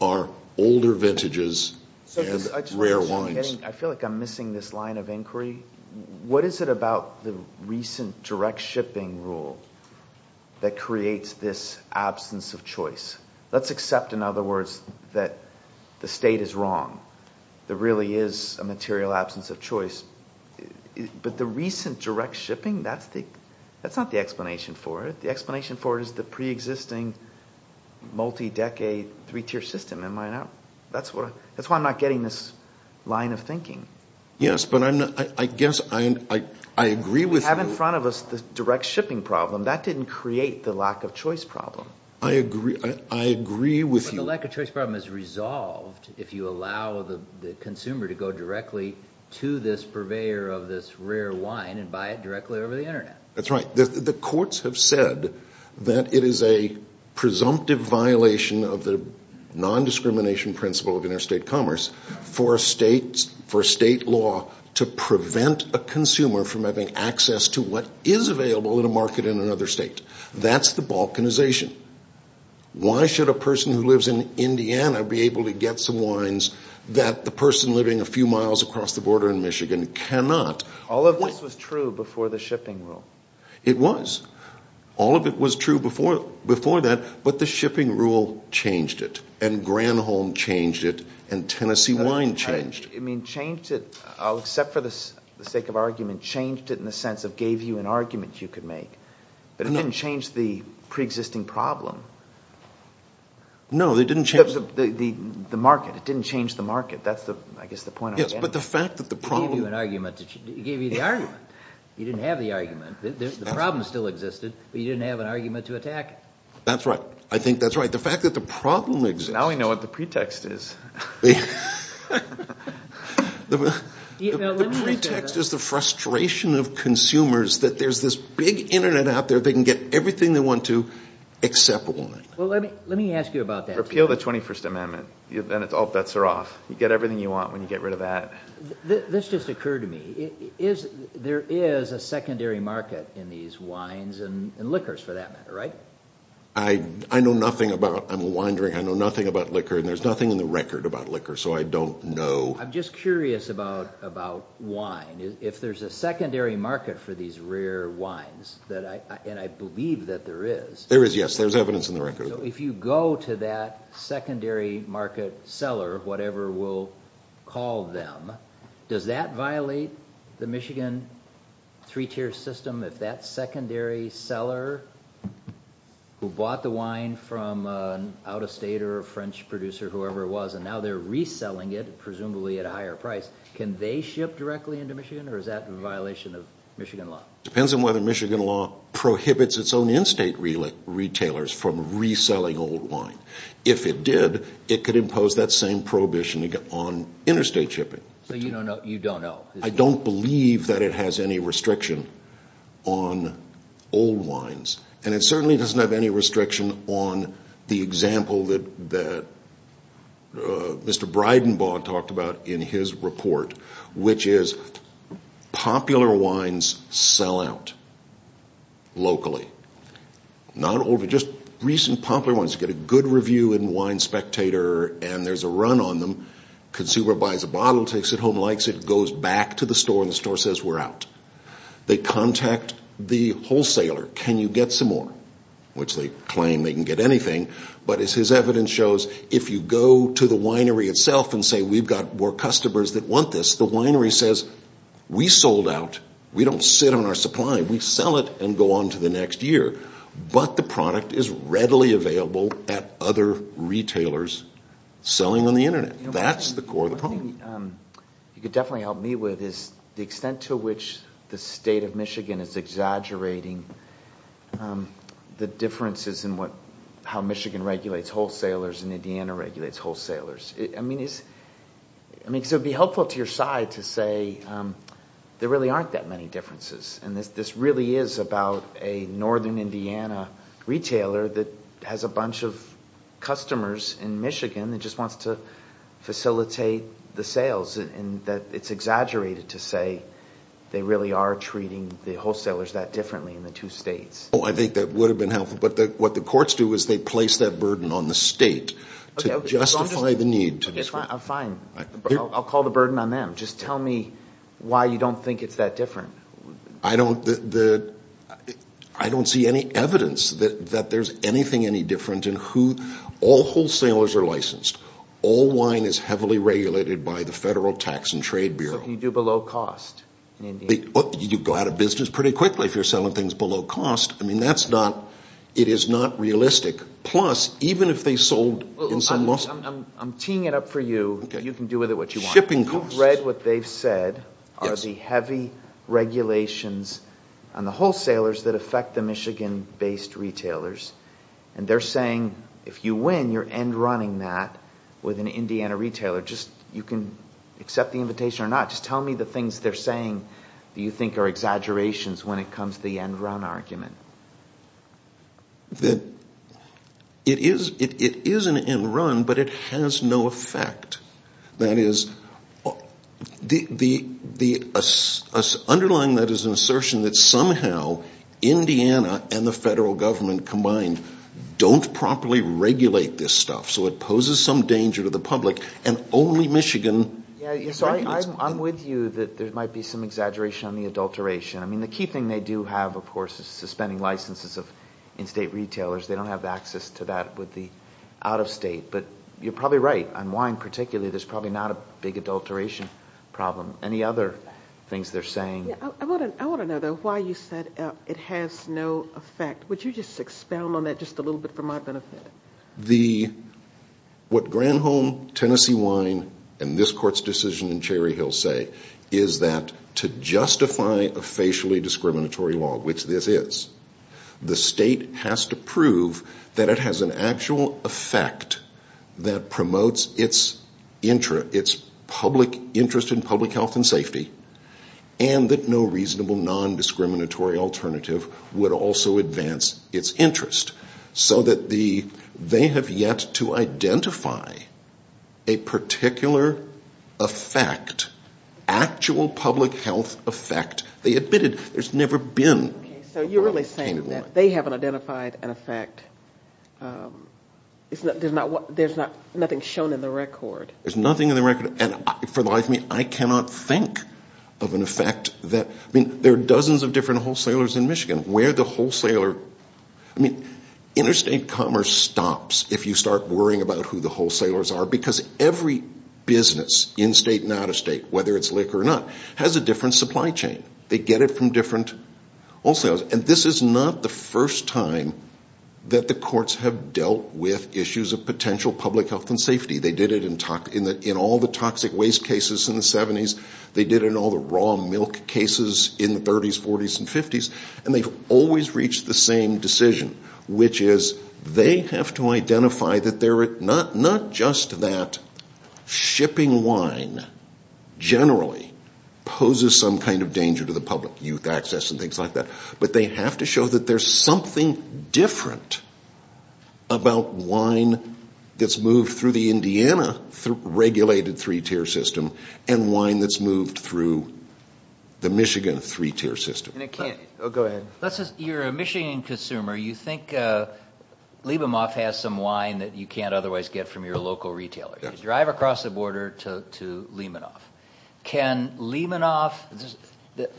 are older vintages and rare wines. I feel like I'm missing this line of inquiry. What is it about the recent direct shipping rule that creates this absence of choice? Let's accept, in other words, that the state is wrong. There really is a material absence of choice. But the recent direct shipping, that's not the explanation for it. The explanation for it is the preexisting multi-decade three-tier system. That's why I'm not getting this line of thinking. Yes, but I guess I agree with you. You have in front of us the direct shipping problem. That didn't create the lack of choice problem. I agree with you. But the lack of choice problem is resolved if you allow the consumer to go directly to this purveyor of this rare wine and buy it directly over the Internet. That's right. The courts have said that it is a presumptive violation of the nondiscrimination principle of interstate commerce for a state law to prevent a consumer from having access to what is available in a market in another state. That's the balkanization. Why should a person who lives in Indiana be able to get some wines that the person living a few miles across the border in Michigan cannot? All of this was true before the shipping rule. It was. All of it was true before that, but the shipping rule changed it, and Granholm changed it, and Tennessee Wine changed it. It changed it, except for the sake of argument, changed it in the sense of gave you an argument you could make. But it didn't change the preexisting problem. No, they didn't change it. The market. It didn't change the market. That's, I guess, the point I'm getting at. It gave you the argument. You didn't have the argument. The problem still existed, but you didn't have an argument to attack it. That's right. I think that's right. The fact that the problem exists. Now we know what the pretext is. The pretext is the frustration of consumers that there's this big Internet out there. They can get everything they want to except one thing. Well, let me ask you about that. Repeal the 21st Amendment. Then all bets are off. You get everything you want when you get rid of that. This just occurred to me. There is a secondary market in these wines and liquors, for that matter, right? I know nothing about wine drinking. I know nothing about liquor, and there's nothing in the record about liquor, so I don't know. I'm just curious about wine. If there's a secondary market for these rare wines, and I believe that there is. There is, yes. There's evidence in the record. If you go to that secondary market seller, whatever we'll call them, does that violate the Michigan three-tier system? If that secondary seller who bought the wine from an out-of-state or a French producer, whoever it was, and now they're reselling it, presumably at a higher price, can they ship directly into Michigan, or is that a violation of Michigan law? It depends on whether Michigan law prohibits its own in-state retailers from reselling old wine. If it did, it could impose that same prohibition on interstate shipping. So you don't know? I don't believe that it has any restriction on old wines, and it certainly doesn't have any restriction on the example that Mr. Breidenbaugh talked about in his report, which is popular wines sell out locally. Not only just recent popular wines. You get a good review in Wine Spectator, and there's a run on them. Consumer buys a bottle, takes it home, likes it, goes back to the store, and the store says we're out. They contact the wholesaler. Can you get some more? Which they claim they can get anything. But as his evidence shows, if you go to the winery itself and say we've got more customers that want this, the winery says we sold out. We don't sit on our supply. We sell it and go on to the next year. But the product is readily available at other retailers selling on the Internet. That's the core of the problem. One thing you could definitely help me with is the extent to which the state of Michigan is exaggerating the differences in how Michigan regulates wholesalers and Indiana regulates wholesalers. I mean, it would be helpful to your side to say there really aren't that many differences, and this really is about a northern Indiana retailer that has a bunch of customers in Michigan that just wants to facilitate the sales, and that it's exaggerated to say they really are treating the wholesalers that differently in the two states. Oh, I think that would have been helpful. But what the courts do is they place that burden on the state to justify the need. Okay, fine. I'll call the burden on them. Just tell me why you don't think it's that different. I don't see any evidence that there's anything any different in who all wholesalers are licensed. All wine is heavily regulated by the Federal Tax and Trade Bureau. So can you do below cost in Indiana? You go out of business pretty quickly if you're selling things below cost. I mean, it is not realistic. Plus, even if they sold in some muscle. I'm teeing it up for you. You can do with it what you want. Shipping costs. You've read what they've said are the heavy regulations on the wholesalers that affect the Michigan-based retailers, and they're saying if you win, you're end-running that with an Indiana retailer. You can accept the invitation or not. Just tell me the things they're saying that you think are exaggerations when it comes to the end-run argument. It is an end-run, but it has no effect. That is, underlying that is an assertion that somehow Indiana and the federal government combined don't properly regulate this stuff. So it poses some danger to the public, and only Michigan. I'm with you that there might be some exaggeration on the adulteration. I mean, the key thing they do have, of course, is suspending licenses of in-state retailers. They don't have access to that with the out-of-state. But you're probably right. On wine particularly, there's probably not a big adulteration problem. Any other things they're saying? I want to know, though, why you said it has no effect. Would you just expound on that just a little bit for my benefit? What Granholm, Tennessee Wine, and this Court's decision in Cherry Hill say is that to justify a facially discriminatory law, which this is, the state has to prove that it has an actual effect that promotes its interest in public health and safety, and that no reasonable non-discriminatory alternative would also advance its interest, so that they have yet to identify a particular effect, actual public health effect. They admitted there's never been. Okay, so you're really saying that they haven't identified an effect. There's nothing shown in the record. There's nothing in the record. And for the life of me, I cannot think of an effect that, I mean, there are dozens of different wholesalers in Michigan. Where the wholesaler, I mean, interstate commerce stops if you start worrying about who the wholesalers are, because every business, in-state and out-of-state, whether it's liquor or not, has a different supply chain. They get it from different wholesalers. And this is not the first time that the courts have dealt with issues of potential public health and safety. They did it in all the toxic waste cases in the 70s. They did it in all the raw milk cases in the 30s, 40s, and 50s. And they've always reached the same decision, which is they have to identify that not just that shipping wine generally poses some kind of danger to the public, youth access and things like that, but they have to show that there's something different about wine that's moved through the Indiana regulated three-tier system and wine that's moved through the Michigan three-tier system. Go ahead. You're a Michigan consumer. You think Libemoff has some wine that you can't otherwise get from your local retailer. You drive across the border to Libemoff. Can Libemoff,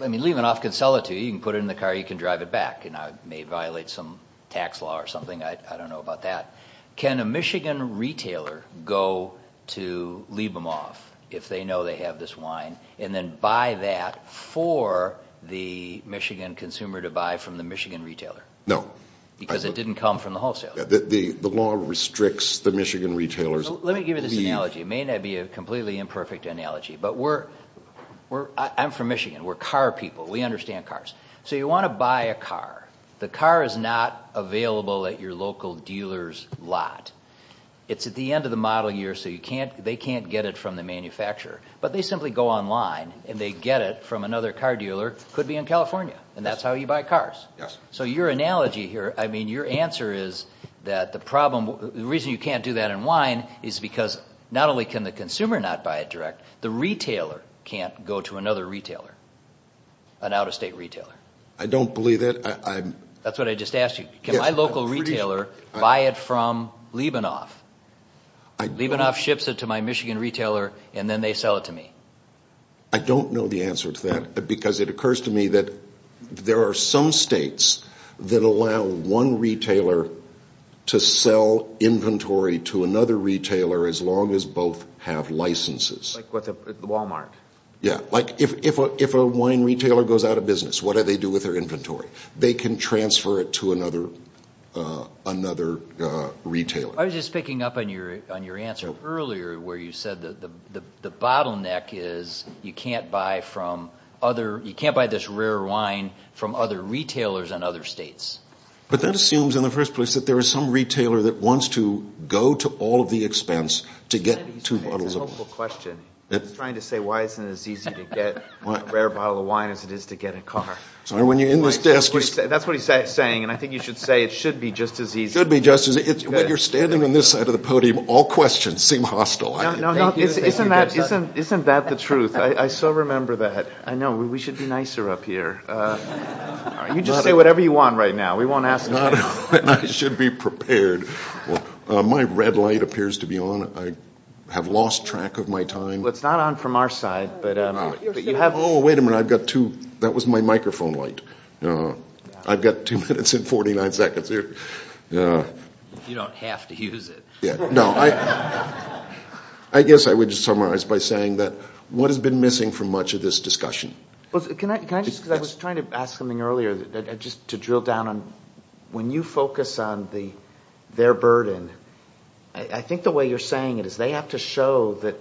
I mean, Libemoff can sell it to you. You can put it in the car. You can drive it back. It may violate some tax law or something. I don't know about that. Can a Michigan retailer go to Libemoff if they know they have this wine and then buy that for the Michigan consumer to buy from the Michigan retailer? No. Because it didn't come from the wholesaler. The law restricts the Michigan retailers. Let me give you this analogy. It may not be a completely imperfect analogy, but I'm from Michigan. We're car people. We understand cars. So you want to buy a car. The car is not available at your local dealer's lot. It's at the end of the model year, so they can't get it from the manufacturer. But they simply go online, and they get it from another car dealer. It could be in California, and that's how you buy cars. Yes. So your analogy here, I mean, your answer is that the reason you can't do that in wine is because not only can the consumer not buy it direct, the retailer can't go to another retailer, an out-of-state retailer. I don't believe that. That's what I just asked you. Can my local retailer buy it from Leibonoff? Leibonoff ships it to my Michigan retailer, and then they sell it to me. I don't know the answer to that because it occurs to me that there are some states that allow one retailer to sell inventory to another retailer as long as both have licenses. Like at Walmart. Yes. Like if a wine retailer goes out of business, what do they do with their inventory? They can transfer it to another retailer. I was just picking up on your answer earlier where you said that the bottleneck is you can't buy this rare wine from other retailers in other states. But that assumes in the first place that there is some retailer that wants to go to all of the expense to get two bottles of wine. That's a wonderful question. I was trying to say why isn't it as easy to get a rare bottle of wine as it is to get a car. That's what he's saying, and I think you should say it should be just as easy. It should be just as easy. When you're standing on this side of the podium, all questions seem hostile. Isn't that the truth? I so remember that. I know. We should be nicer up here. You just say whatever you want right now. We won't ask questions. I should be prepared. My red light appears to be on. I have lost track of my time. It's not on from our side. Oh, wait a minute. I've got two. That was my microphone light. I've got two minutes and 49 seconds here. You don't have to use it. No. I guess I would just summarize by saying that what has been missing from much of this discussion? I was trying to ask something earlier just to drill down on when you focus on their burden. I think the way you're saying it is they have to show that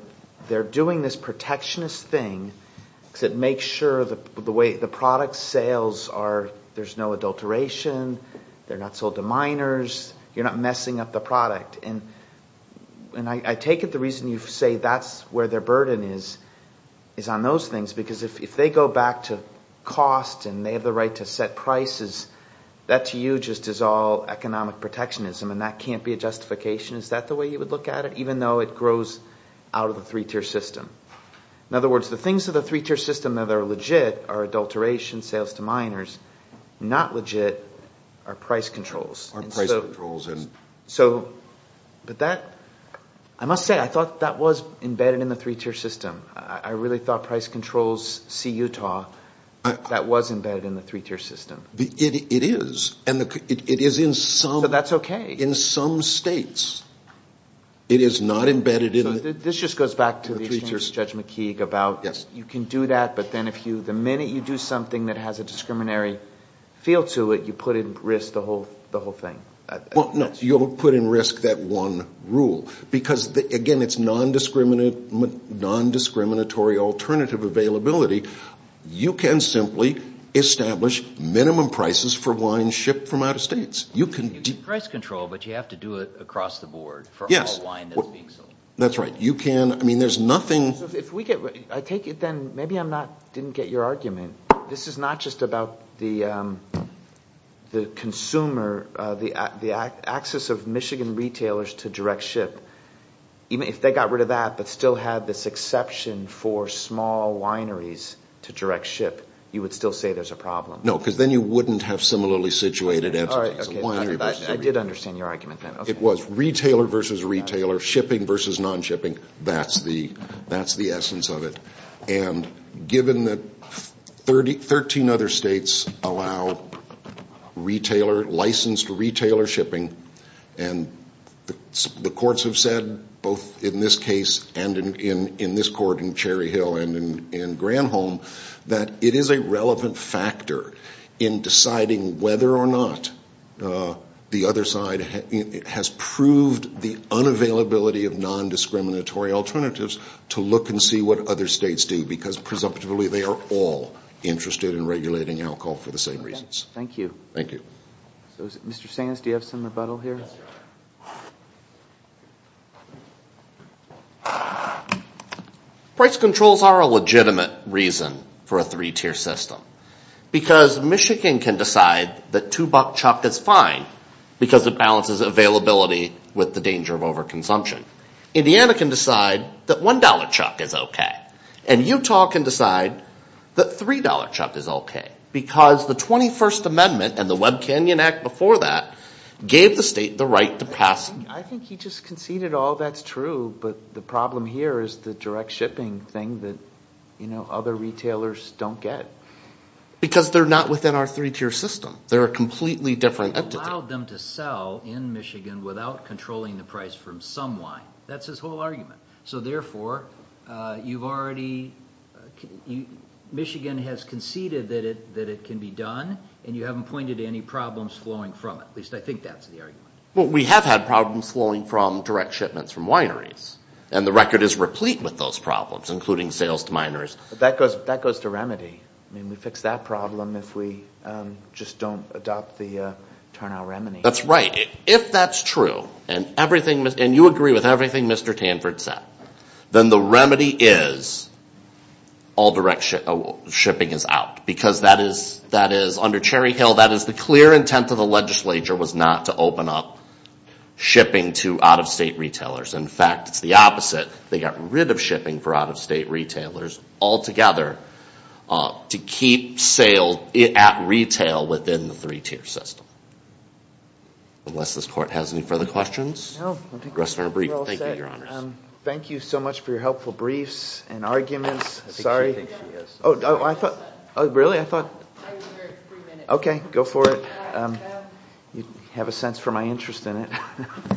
they're doing this protectionist thing to make sure the way the product sales are. There's no adulteration. They're not sold to minors. You're not messing up the product, and I take it the reason you say that's where their burden is is on those things. Because if they go back to cost and they have the right to set prices, that to you just is all economic protectionism, and that can't be a justification. Is that the way you would look at it, even though it grows out of the three-tier system? In other words, the things of the three-tier system that are legit are adulteration, sales to minors. Not legit are price controls. Are price controls. But that – I must say I thought that was embedded in the three-tier system. I really thought price controls see Utah. That was embedded in the three-tier system. It is. It is in some – So that's okay. In some states. It is not embedded in – This just goes back to the exchange of Judge McKeague about you can do that, but then the minute you do something that has a discriminatory feel to it, you put at risk the whole thing. You'll put at risk that one rule because, again, it's nondiscriminatory alternative availability. You can simply establish minimum prices for wine shipped from out of states. You can do – It's price control, but you have to do it across the board for all wine that's being sold. That's right. You can – I mean there's nothing – If we get – I take it then maybe I'm not – didn't get your argument. This is not just about the consumer – the access of Michigan retailers to direct ship. Even if they got rid of that but still had this exception for small wineries to direct ship, you would still say there's a problem. No, because then you wouldn't have similarly situated entities. I did understand your argument then. It was retailer versus retailer, shipping versus non-shipping. That's the essence of it. And given that 13 other states allow retailer – licensed retailer shipping, and the courts have said both in this case and in this court in Cherry Hill and in Granholm that it is a relevant factor in deciding whether or not the other side has proved the unavailability of nondiscriminatory alternatives to look and see what other states do because presumptively they are all interested in regulating alcohol for the same reasons. Thank you. Thank you. Mr. Sands, do you have some rebuttal here? Price controls are a legitimate reason for a three-tier system because Michigan can decide that two-buck chuck is fine because it balances availability with the danger of overconsumption. Indiana can decide that one-dollar chuck is okay. And Utah can decide that three-dollar chuck is okay because the 21st Amendment and the Webb Canyon Act before that gave the state the right to pass – I think he just conceded all that's true, but the problem here is the direct shipping thing that other retailers don't get. Because they're not within our three-tier system. They're a completely different entity. You've allowed them to sell in Michigan without controlling the price from some wine. That's his whole argument. So, therefore, you've already – Michigan has conceded that it can be done, and you haven't pointed to any problems flowing from it. At least I think that's the argument. Well, we have had problems flowing from direct shipments from wineries, and the record is replete with those problems, including sales to miners. That goes to remedy. I mean, we fix that problem if we just don't adopt the turnout remedy. That's right. If that's true, and you agree with everything Mr. Tanford said, then the remedy is all direct shipping is out because that is – under Cherry Hill, that is the clear intent of the legislature was not to open up shipping to out-of-state retailers. In fact, it's the opposite. They got rid of shipping for out-of-state retailers altogether to keep sale at retail within the three-tier system. Unless this Court has any further questions. No. Thank you, Your Honors. Thank you so much for your helpful briefs and arguments. Sorry. I think she thinks she has some. Oh, really? I thought – I wonder if three minutes. Okay. Go for it. You have a sense for my interest in it. All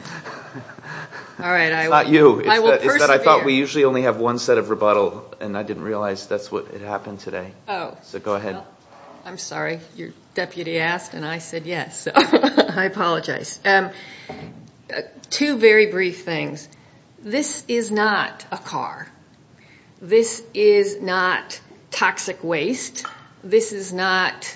right. It's not you. I will persevere. It's that I thought we usually only have one set of rebuttal, and I didn't realize that's what happened today. Oh. So go ahead. I'm sorry. Your deputy asked, and I said yes, so I apologize. Two very brief things. This is not a car. This is not toxic waste. This is not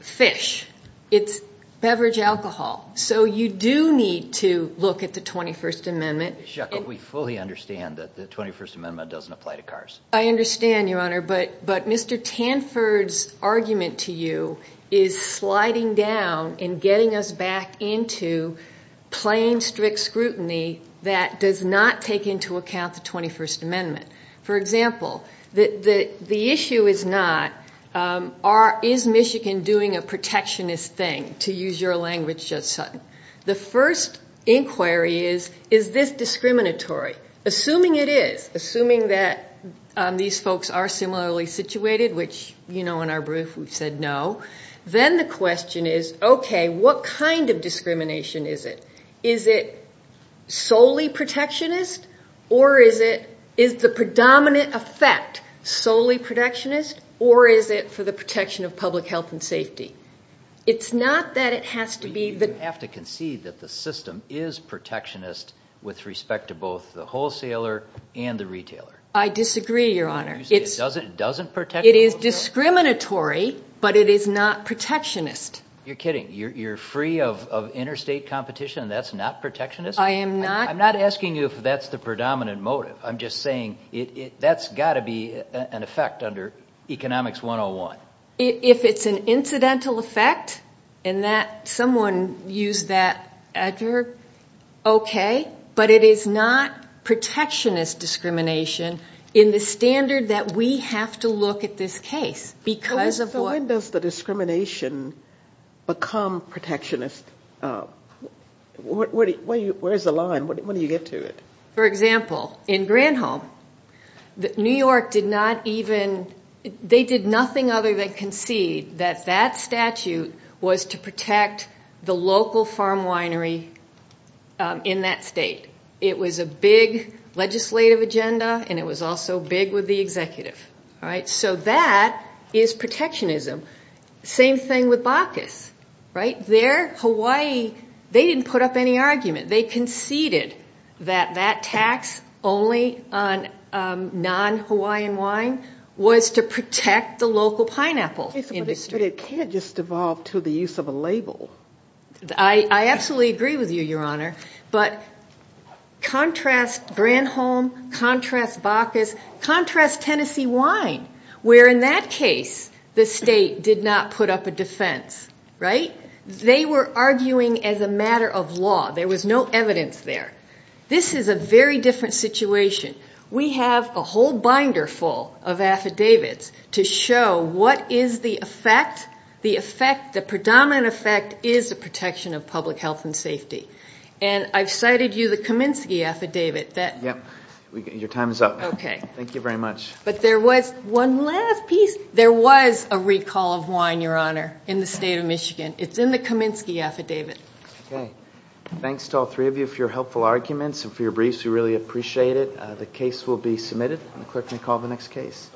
fish. It's beverage alcohol. So you do need to look at the 21st Amendment. Chuck, we fully understand that the 21st Amendment doesn't apply to cars. I understand, Your Honor, but Mr. Tanford's argument to you is sliding down and getting us back into plain, strict scrutiny that does not take into account the 21st Amendment. For example, the issue is not is Michigan doing a protectionist thing, to use your language, Judge Sutton. The first inquiry is, is this discriminatory? Assuming it is, assuming that these folks are similarly situated, which, you know, in our brief we've said no, then the question is, okay, what kind of discrimination is it? Is it solely protectionist, or is the predominant effect solely protectionist, or is it for the protection of public health and safety? It's not that it has to be the – You have to concede that the system is protectionist with respect to both the wholesaler and the retailer. I disagree, Your Honor. It doesn't protect – It is discriminatory, but it is not protectionist. You're kidding. You're free of interstate competition and that's not protectionist? I am not – I'm not asking you if that's the predominant motive. I'm just saying that's got to be an effect under Economics 101. If it's an incidental effect and that someone used that adverb, okay, but it is not protectionist discrimination in the standard that we have to look at this case because of what – become protectionist, where is the line? When do you get to it? For example, in Granholm, New York did not even – they did nothing other than concede that that statute was to protect the local farm winery in that state. It was a big legislative agenda, and it was also big with the executive. All right? So that is protectionism. Same thing with Bacchus, right? There, Hawaii, they didn't put up any argument. They conceded that that tax only on non-Hawaiian wine was to protect the local pineapple industry. But it can't just devolve to the use of a label. I absolutely agree with you, Your Honor. But contrast Granholm, contrast Bacchus, contrast Tennessee wine, where in that case the state did not put up a defense, right? They were arguing as a matter of law. There was no evidence there. This is a very different situation. We have a whole binder full of affidavits to show what is the effect. The effect, the predominant effect is the protection of public health and safety. And I've cited you the Kaminsky affidavit that – Yep. Your time is up. Okay. Thank you very much. But there was one last piece. There was a recall of wine, Your Honor, in the state of Michigan. It's in the Kaminsky affidavit. Okay. Thanks to all three of you for your helpful arguments and for your briefs. We really appreciate it. The case will be submitted. The clerk may call the next case.